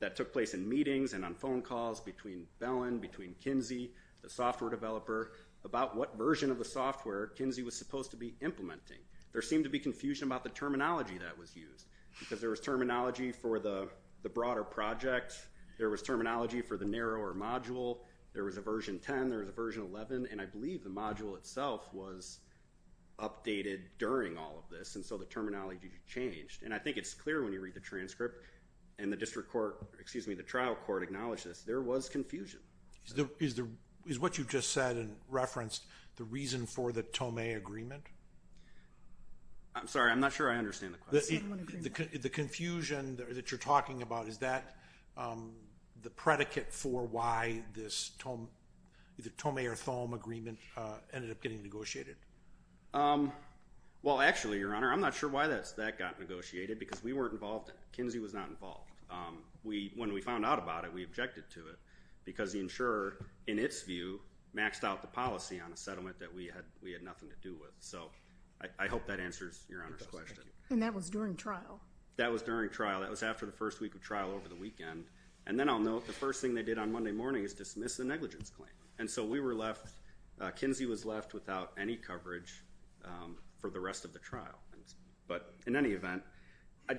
that took place in meetings and on phone calls between Bellin, between Kinsey, the software developer, about what version of the software Kinsey was supposed to be implementing. There seemed to be confusion about the terminology that was used, because there was terminology for the broader project, there was terminology for the narrower module, there was a version 10, there was a version 11, and I believe the module itself was updated during all of this, and so the trial court acknowledged this. There was confusion. Is what you just said and referenced the reason for the Tomei agreement? I'm sorry, I'm not sure I understand the question. The confusion that you're talking about, is that the predicate for why this Tomei or Thome agreement ended up getting negotiated? Well, actually, Your Honor, I'm not sure why that got negotiated, because we weren't involved. Kinsey was not involved. When we found out about it, we objected to it, because the insurer, in its view, maxed out the policy on a settlement that we had nothing to do with. So I hope that answers Your Honor's question. And that was during trial? That was during trial. That was after the first week of trial over the weekend. And then I'll note, the first thing they did on Monday morning is dismiss the negligence claim. And so Kinsey was left without any coverage for the rest of the trial. But in any event,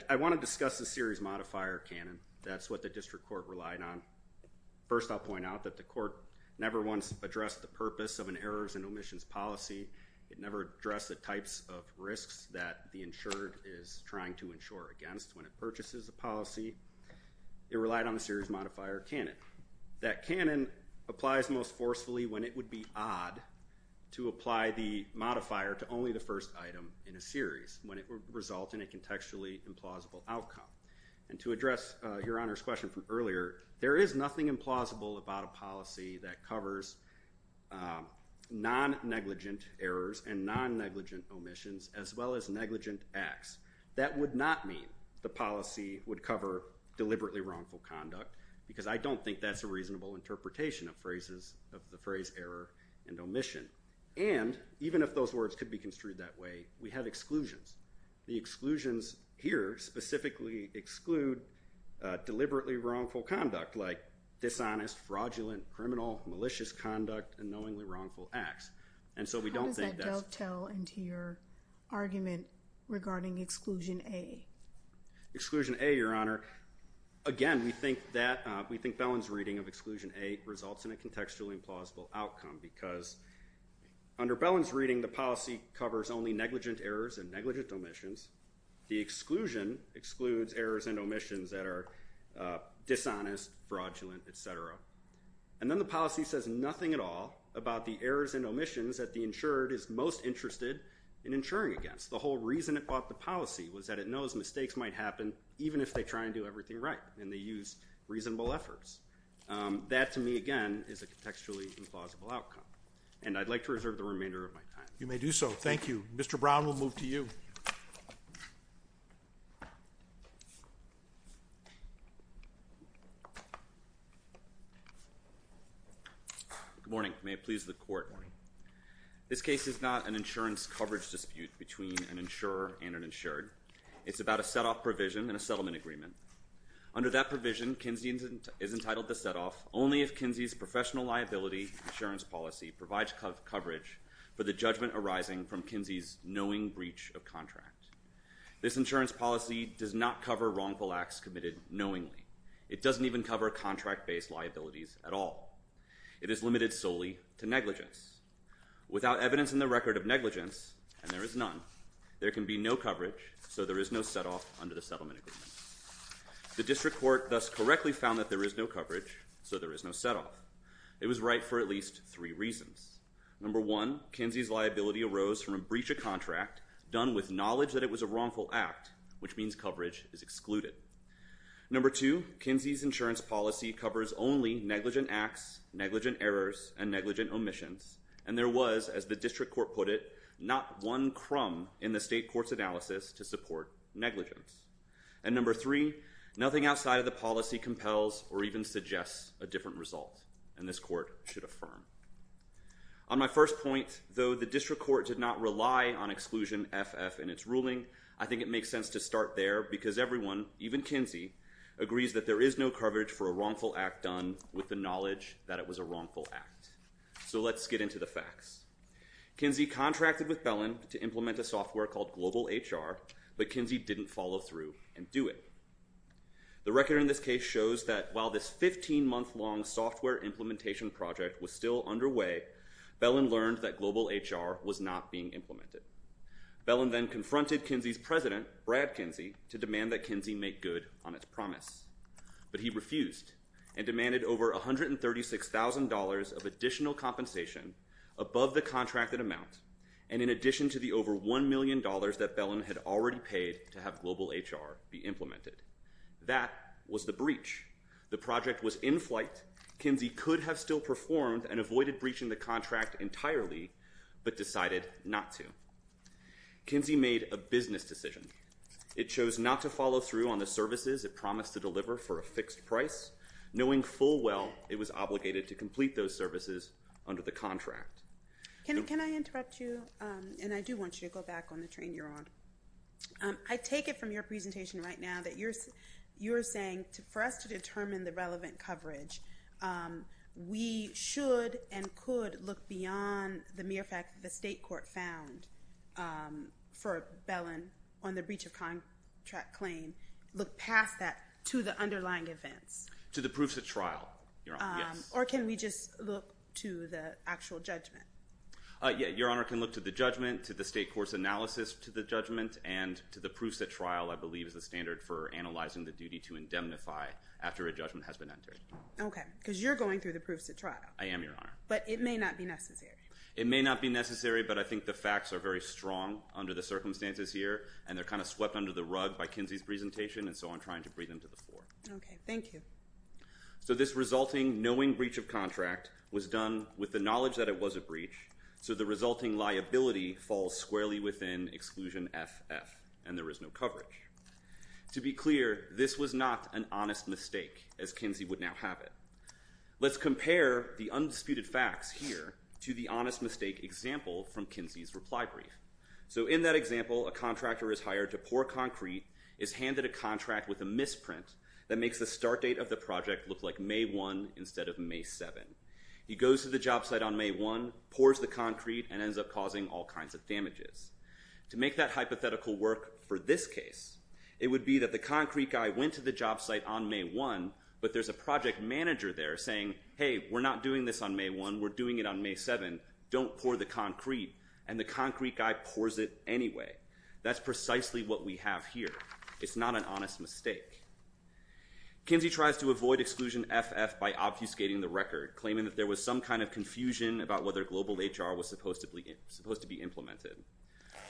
I want to discuss the series modifier canon. That's what the district court relied on. First, I'll point out that the court never once addressed the purpose of an errors and omissions policy. It never addressed the types of risks that the insured is trying to insure against when it purchases a policy. It relied on the series modifier canon. That canon applies most forcefully when it would be odd to apply the modifier to only the first item in a series, when it would result in a contextually implausible outcome. And to address Your Honor's question from earlier, there is nothing implausible about a policy that covers non-negligent errors and non-negligent omissions, as well as negligent acts. That would not mean the policy would cover deliberately wrongful conduct, because I don't think that's a reasonable interpretation of the phrase error and omission. And even if those words could be construed that way, we have exclusions. The exclusions here specifically exclude deliberately wrongful conduct, like dishonest, fraudulent, criminal, malicious conduct, and knowingly wrongful acts. And so we don't think that's- How does that dovetail into your argument regarding exclusion A? Exclusion A, Your Honor. Again, we think Bellin's reading of exclusion A results in a contextually implausible outcome, because under Bellin's reading, the policy covers only negligent errors and negligent omissions. The exclusion excludes errors and omissions that are dishonest, fraudulent, et cetera. And then the policy says nothing at all about the errors and omissions that the insured is most interested in insuring against. The whole reason it bought the policy was that it knows mistakes might happen even if they try and do everything right and they use reasonable efforts. That to me, again, is a contextually implausible outcome. And I'd like to reserve the remainder of my time. You may do so. Thank you. Mr. Brown, we'll move to you. Good morning. May it please the court. This case is not an insurance coverage dispute between an insurer and an insured. It's about a set-off provision in a settlement agreement. Under that provision, Kinsey is entitled to set-off only if Kinsey's professional liability insurance policy provides coverage for the judgment arising from Kinsey's knowing breach of contract. This insurance policy does not cover wrongful acts committed knowingly. It doesn't even cover contract-based liabilities at all. It is limited solely to negligence. Without evidence in the record of can be no coverage, so there is no set-off under the settlement agreement. The district court thus correctly found that there is no coverage, so there is no set-off. It was right for at least three reasons. Number one, Kinsey's liability arose from a breach of contract done with knowledge that it was a wrongful act, which means coverage is excluded. Number two, Kinsey's insurance policy covers only negligent acts, negligent errors, and negligent omissions. And there was, as the district court put it, not one crumb in the state court's analysis to support negligence. And number three, nothing outside of the policy compels or even suggests a different result, and this court should affirm. On my first point, though the district court did not rely on exclusion FF in its ruling, I think it makes sense to start there because everyone, even Kinsey, agrees that there is no coverage for a wrongful act done with the knowledge that it was a wrongful act. So let's get into the facts. Kinsey contracted with Bellin to implement a software called Global HR, but Kinsey didn't follow through and do it. The record in this case shows that while this 15-month-long software implementation project was still underway, Bellin learned that Global HR was not being implemented. Bellin then confronted Kinsey's president, Brad Kinsey, to demand that Kinsey make good on its promise, but he refused and demanded over $136,000 of additional compensation above the contracted amount and in addition to the over $1 million that Bellin had already paid to have Global HR be implemented. That was the breach. The project was in flight. Kinsey could have still performed and avoided breaching the contract entirely, but decided not to. Kinsey made a business decision. It chose not to follow through on the services it promised to deliver for a fixed price, knowing full well it was obligated to complete those services under the contract. Can I interrupt you? And I do want you to go back on the train you're on. I take it from your presentation right now that you're saying for us to determine the relevant coverage, we should and could look beyond the mere fact that the state court found for Bellin on the breach of contract claim, look past that to the underlying events. To the proofs at trial, your honor, yes. Or can we just look to the actual judgment? Yeah, your honor can look to the judgment, to the state court's analysis to the judgment, and to the proofs at trial I believe is the standard for analyzing the duty to indemnify after a judgment has been entered. Okay, because you're going through the proofs at trial. I am, your honor. But it may not be necessary. It may not be necessary, but I think the facts are very strong under the circumstances here, and they're kind of swept under the rug by Kinsey's presentation, and so I'm trying to bring them to the floor. Okay, thank you. So this resulting knowing breach of contract was done with the knowledge that it was a breach, so the resulting liability falls squarely within exclusion FF, and there is no coverage. To be clear, this was not an honest mistake, as Kinsey would now have it. Let's compare the undisputed facts here to the honest mistake example from Kinsey's reply brief. So in that example, a contractor is hired to pour concrete, is handed a contract with a misprint that makes the start date of the project look like May 1 instead of May 7. He goes to the job site on May 1, pours the concrete, and ends up all kinds of damages. To make that hypothetical work for this case, it would be that the concrete guy went to the job site on May 1, but there's a project manager there saying, hey, we're not doing this on May 1. We're doing it on May 7. Don't pour the concrete, and the concrete guy pours it anyway. That's precisely what we have here. It's not an honest mistake. Kinsey tries to avoid exclusion FF by obfuscating the record, claiming that there was some kind of confusion about whether global HR was supposed to be implemented.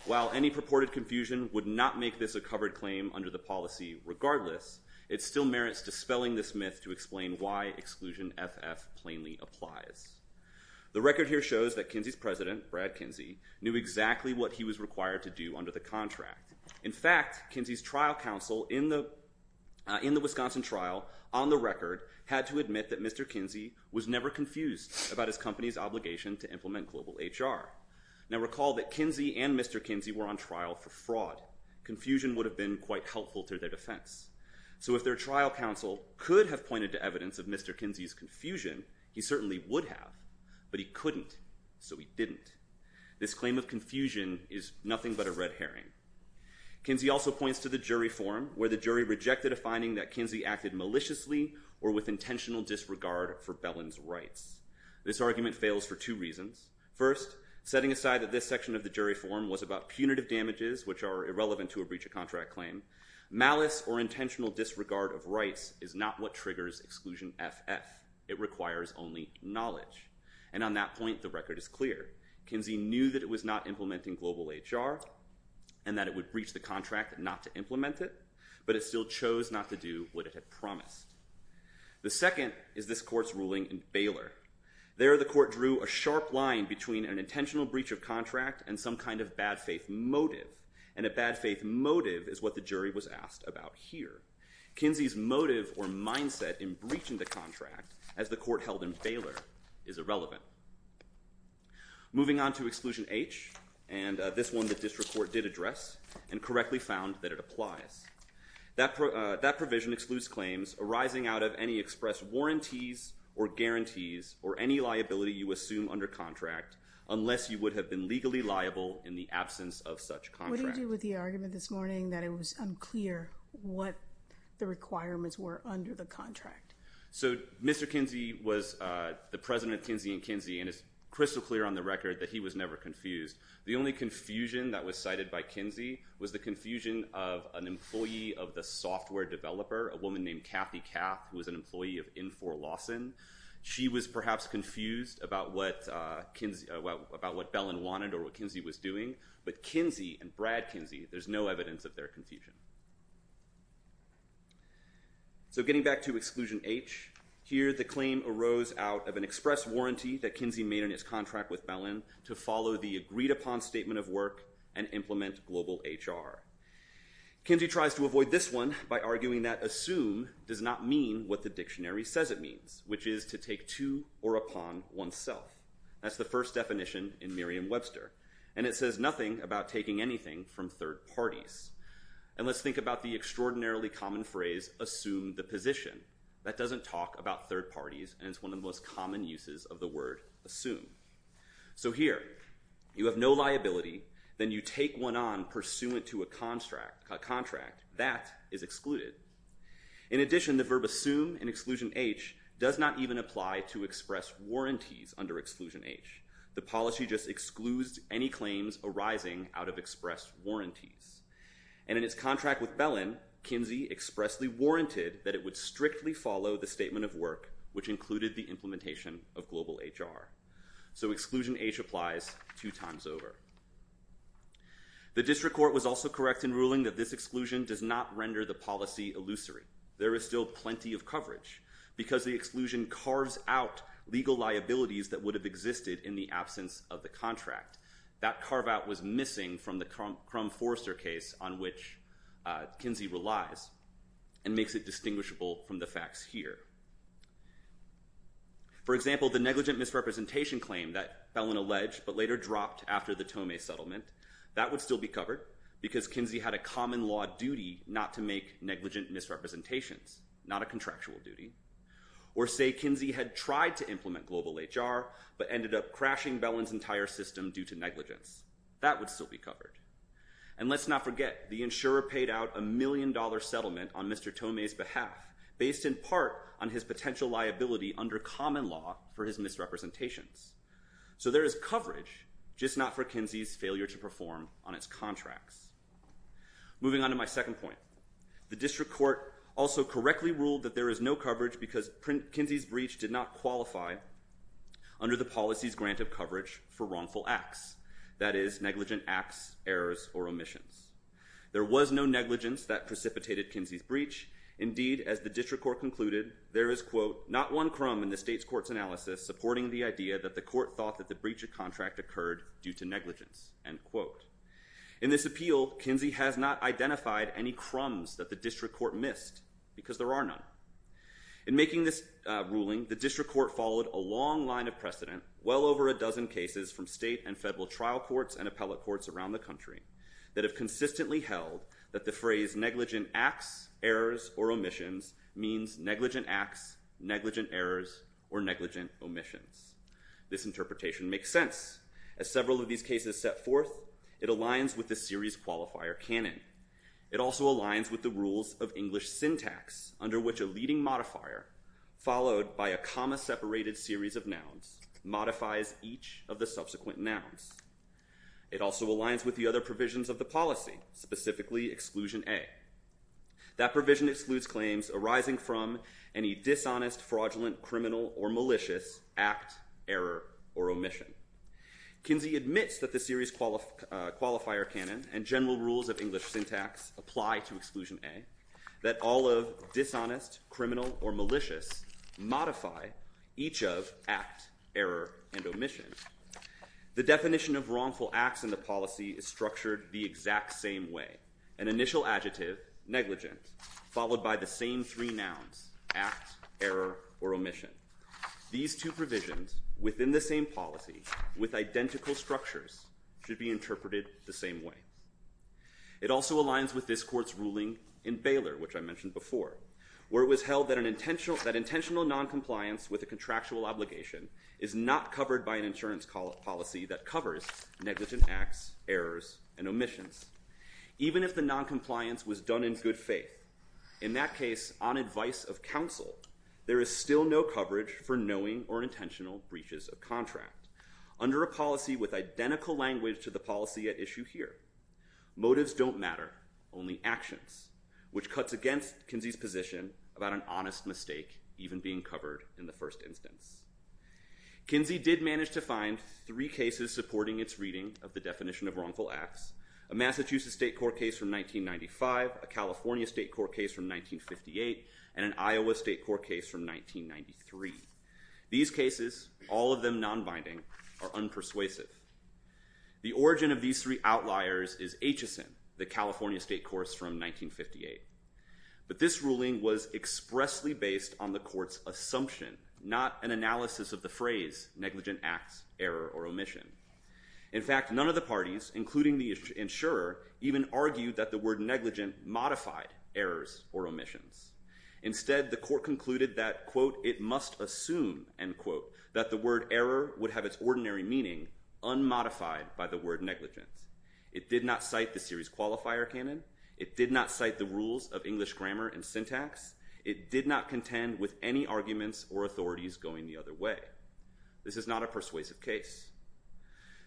While any purported confusion would not make this a covered claim under the policy regardless, it still merits dispelling this myth to explain why exclusion FF plainly applies. The record here shows that Kinsey's president, Brad Kinsey, knew exactly what he was required to do under the contract. In fact, Kinsey's trial counsel in the Wisconsin trial on the record had to admit that Mr. Kinsey was never confused about his company's obligation to implement global HR. Now recall that Kinsey and Mr. Kinsey were on trial for fraud. Confusion would have been quite helpful to their defense. So if their trial counsel could have pointed to evidence of Mr. Kinsey's confusion, he certainly would have. But he couldn't, so he didn't. This claim of confusion is nothing but a red herring. Kinsey also points to the jury forum where the jury rejected a finding that Kinsey acted maliciously or with intentional disregard for Bellin's rights. This argument fails for two reasons. First, setting aside that this section of the jury forum was about punitive damages which are irrelevant to a breach of contract claim, malice or intentional disregard of rights is not what triggers exclusion FF. It requires only knowledge. And on that point, the record is clear. Kinsey knew that it was not implementing global HR and that it would breach the contract not to implement it, but it still chose not to do what it had promised. The second is this court's ruling in Baylor. There the court drew a sharp line between an intentional breach of contract and some kind of bad faith motive. And a bad faith motive is what the jury was asked about here. Kinsey's motive or mindset in breaching the contract as the court held in Baylor is irrelevant. Moving on to exclusion H, and this one the district court did address and correctly found that it applies. That provision excludes claims arising out of any expressed warranties or guarantees or any liability you assume under contract unless you would have been legally liable in the absence of such contract. What do you do with the argument this morning that it was unclear what the requirements were under the contract? So Mr. Kinsey was the president of Kinsey and Kinsey and it's crystal clear on the record that he was never confused. The only confusion that was cited by Kinsey was the confusion of an employee of the software developer, a woman named Kathy Kapp, who was an employee of Infor Lawson. She was perhaps confused about what Kinsey, about what Bellin wanted or what Kinsey was doing, but Kinsey and Brad Kinsey, there's no evidence of their confusion. So getting back to exclusion H, here the claim arose out of express warranty that Kinsey made in his contract with Bellin to follow the agreed upon statement of work and implement global HR. Kinsey tries to avoid this one by arguing that assume does not mean what the dictionary says it means, which is to take to or upon oneself. That's the first definition in Merriam-Webster and it says nothing about taking anything from third parties. And let's think about the extraordinarily common phrase, assume the position. That doesn't talk about third parties and it's one of the most common uses of the word assume. So here, you have no liability, then you take one on pursuant to a contract, that is excluded. In addition, the verb assume in exclusion H does not even apply to express warranties under exclusion H. The policy just excludes any claims arising out of express warranties. And in its contract with Bellin, Kinsey expressly warranted that it would strictly follow the statement of work, which included the implementation of global HR. So exclusion H applies two times over. The district court was also correct in ruling that this exclusion does not render the policy illusory. There is still plenty of coverage, because the exclusion carves out legal liabilities that would have existed in the absence of the contract. That carve out was missing from the Forrester case on which Kinsey relies and makes it distinguishable from the facts here. For example, the negligent misrepresentation claim that Bellin alleged but later dropped after the Tome settlement, that would still be covered because Kinsey had a common law duty not to make negligent misrepresentations, not a contractual duty. Or say Kinsey had tried to implement global HR but ended up crashing Bellin's entire system due to negligence. That would still be covered. And let's not forget, the insurer paid out a million dollar settlement on Mr. Tome's behalf based in part on his potential liability under common law for his misrepresentations. So there is coverage, just not for Kinsey's failure to perform on its contracts. Moving on to my second point, the district court also correctly ruled that there is no coverage because Kinsey's breach did not qualify under the policy's grant of coverage for wrongful acts. That is, negligent acts, errors, or omissions. There was no negligence that precipitated Kinsey's breach. Indeed, as the district court concluded, there is, quote, not one crumb in the state's court's analysis supporting the idea that the court thought that the breach of contract occurred due to negligence, end quote. In this appeal, Kinsey has not identified any crumbs that the district court missed because there are none. In making this ruling, the district court followed a long line of precedent, well over a dozen cases from state and federal trial courts and appellate courts around the country that have consistently held that the phrase negligent acts, errors, or omissions means negligent acts, negligent errors, or negligent omissions. This interpretation makes sense. As several of these cases set forth, it aligns with the series qualifier canon. It also aligns with the rules of English syntax under which a leading modifier, followed by a comma-separated series of nouns, modifies each of the subsequent nouns. It also aligns with the other provisions of the policy, specifically Exclusion A. That provision excludes claims arising from any dishonest, fraudulent, criminal, or malicious act, error, or omission. Kinsey admits that the series qualifier canon and general rules of criminal or malicious modify each of act, error, and omission. The definition of wrongful acts in the policy is structured the exact same way. An initial adjective, negligent, followed by the same three nouns, act, error, or omission. These two provisions within the same policy, with identical structures, should be interpreted the same way. It also aligns with this court's ruling in Baylor, which I mentioned before, where it was held that intentional non-compliance with a contractual obligation is not covered by an insurance policy that covers negligent acts, errors, and omissions, even if the non-compliance was done in good faith. In that case, on advice of counsel, there is still no coverage for knowing or intentional breaches of contract. Under a policy with identical language to the policy at issue here, motives don't matter, only actions, which cuts against Kinsey's position about an honest mistake even being covered in the first instance. Kinsey did manage to find three cases supporting its reading of the definition of wrongful acts, a Massachusetts state court case from 1995, a California state court case from 1958, and an Iowa state court case from 1993. These cases, all of them non-binding, are unpersuasive. The origin of these three outliers is HSN, the California state course from 1958. But this ruling was expressly based on the court's assumption, not an analysis of the phrase, negligent acts, error, or omission. In fact, none of the parties, including the insurer, even argued that the word negligent modified errors or omissions. Instead, the court concluded that, quote, it must assume, end quote, that the word error would have its ordinary meaning unmodified by the word negligent. It did not cite the series qualifier canon. It did not cite the rules of English grammar and syntax. It did not contend with any arguments or authorities going the other way. This is not a persuasive case.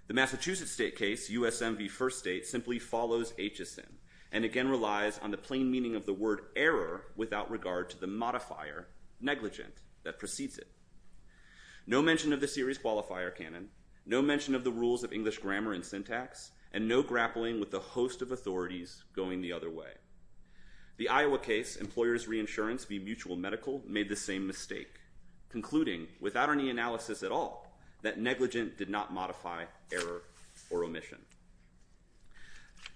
The Massachusetts state case, USM v. First State, simply follows HSN and again relies on the plain meaning of the word error without regard to the modifier, negligent, that precedes it. No mention of the series qualifier canon, no mention of the rules of English grammar and syntax, and no grappling with the host of authorities going the other way. The Iowa case, Employers' Reinsurance v. Mutual Medical, made the same mistake, concluding, without any analysis at all, that negligent did not modify error or omission.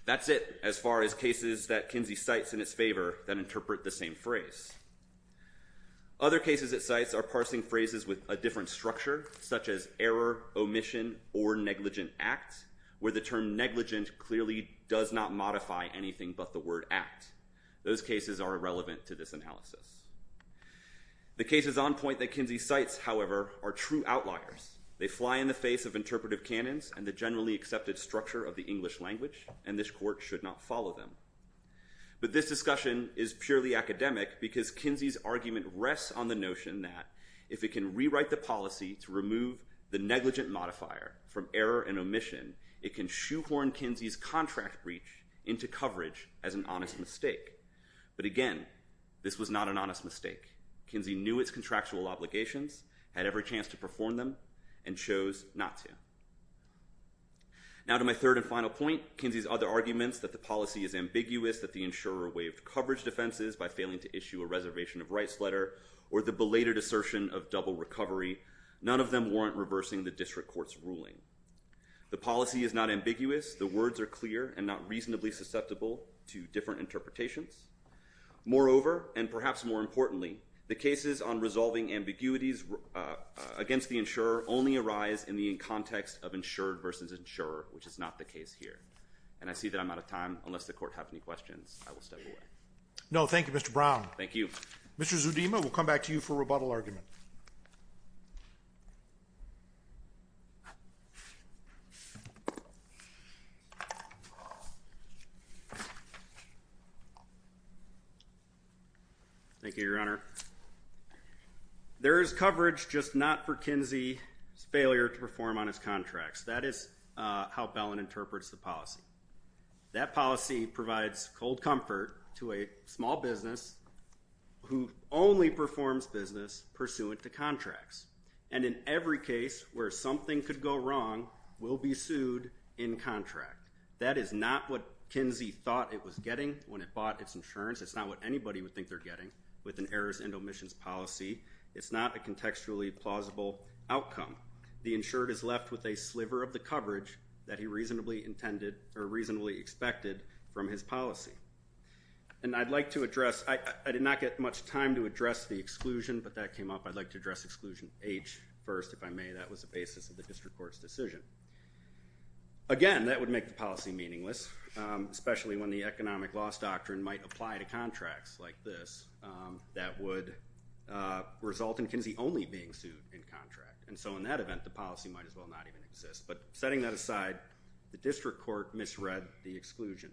That's it as far as cases that Kinsey cites in its favor that interpret the same phrase. Other cases it cites are parsing phrases with a different structure, such as error, omission, or negligent act, where the term negligent clearly does not modify anything but the word act. Those cases are irrelevant to this analysis. The cases on point that Kinsey cites, however, are true outliers. They fly in the face of interpretive canons and the generally accepted structure of the English language, and this court should not follow them. But this discussion is purely academic because Kinsey's argument rests on the notion that if it can rewrite the policy to remove the negligent modifier from error and omission, it can shoehorn Kinsey's contract breach into coverage as an honest mistake. But again, this was not an honest mistake. Kinsey knew its contractual obligations, had every chance to perform them, and chose not to. Now to my third and final point, Kinsey's other arguments that the policy is ambiguous, that the insurer waived coverage defenses by failing to issue a reservation of rights letter, or the belated assertion of double recovery, none of them warrant reversing the district court's ruling. The policy is not ambiguous. The words are clear and not reasonably susceptible to different interpretations. Moreover, and perhaps more importantly, the cases on resolving ambiguities against the insurer only arise in the context of insured versus insurer, which is not the case here. And I see that I'm out of time. Unless the court has any questions, I will step away. No, thank you, Mr. Brown. Thank you, Your Honor. There is coverage, just not for Kinsey's failure to perform on his contracts. That is how Bellin interprets the policy. That policy provides cold comfort to a small business who only performs business pursuant to contracts. And in every case where something could go wrong, will be sued in contract. That is not what Kinsey thought it was getting when it bought its insurance. It's not what anybody would think they're getting with an errors and omissions policy. It's not a contextually plausible outcome. The insured is left with a sliver of the coverage that he reasonably expected from his policy. And I'd like to address, I did not get much time to address the exclusion, but that came up. I'd like to address exclusion H first, if I may. That was the basis of the district court's decision. Again, that would make the policy meaningless, especially when the economic loss doctrine might apply to contracts like this that would result in Kinsey only being sued in contract. And so in that event, the policy might as well not even exist. But setting that aside, the district court misread the exclusion.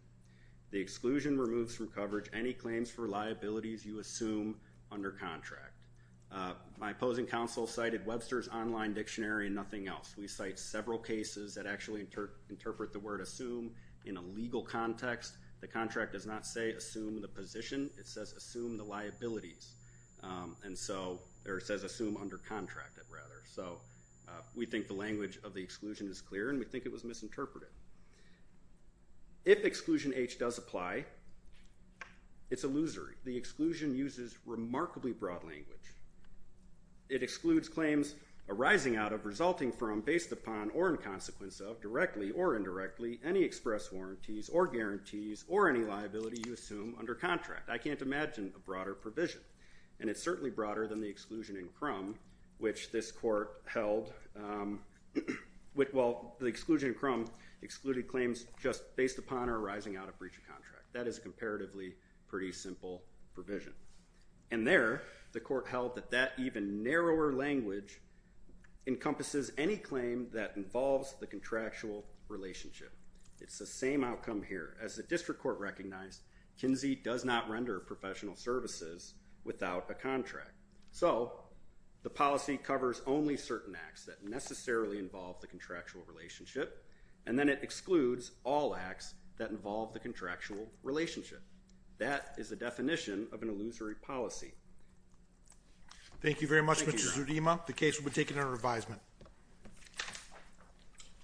The exclusion removes from coverage any claims for liabilities you assume under contract. My opposing counsel cited Webster's online dictionary and nothing else. We cite several cases that actually interpret the word assume in a legal context. The contract does not say assume the position. It says assume the liabilities. And so, or it says assume under contract, rather. So we think the language of the exclusion is clear, and we think it was misinterpreted. If exclusion H does apply, it's illusory. The exclusion uses remarkably broad language. It excludes claims arising out of, resulting from, based upon, or in consequence of, directly or indirectly, any express warranties or guarantees or any liability you assume under contract. I can't imagine a broader provision. And it's certainly broader than the exclusion in Crum, which this court held, well, the exclusion in Crum excluded claims just based upon or arising out of breach of contract. That is a comparatively pretty simple provision. And there, the court held that that even narrower language encompasses any claim that involves the contractual relationship. It's the same outcome here. As the district court recognized, Kinsey does not render professional services without a contract. So the policy covers only certain acts that necessarily involve the contractual relationship, and then it excludes all acts that involve the contractual relationship. That is the definition of an illusory policy. Thank you very much, Mr. Zudima. The case will be taken under revisement.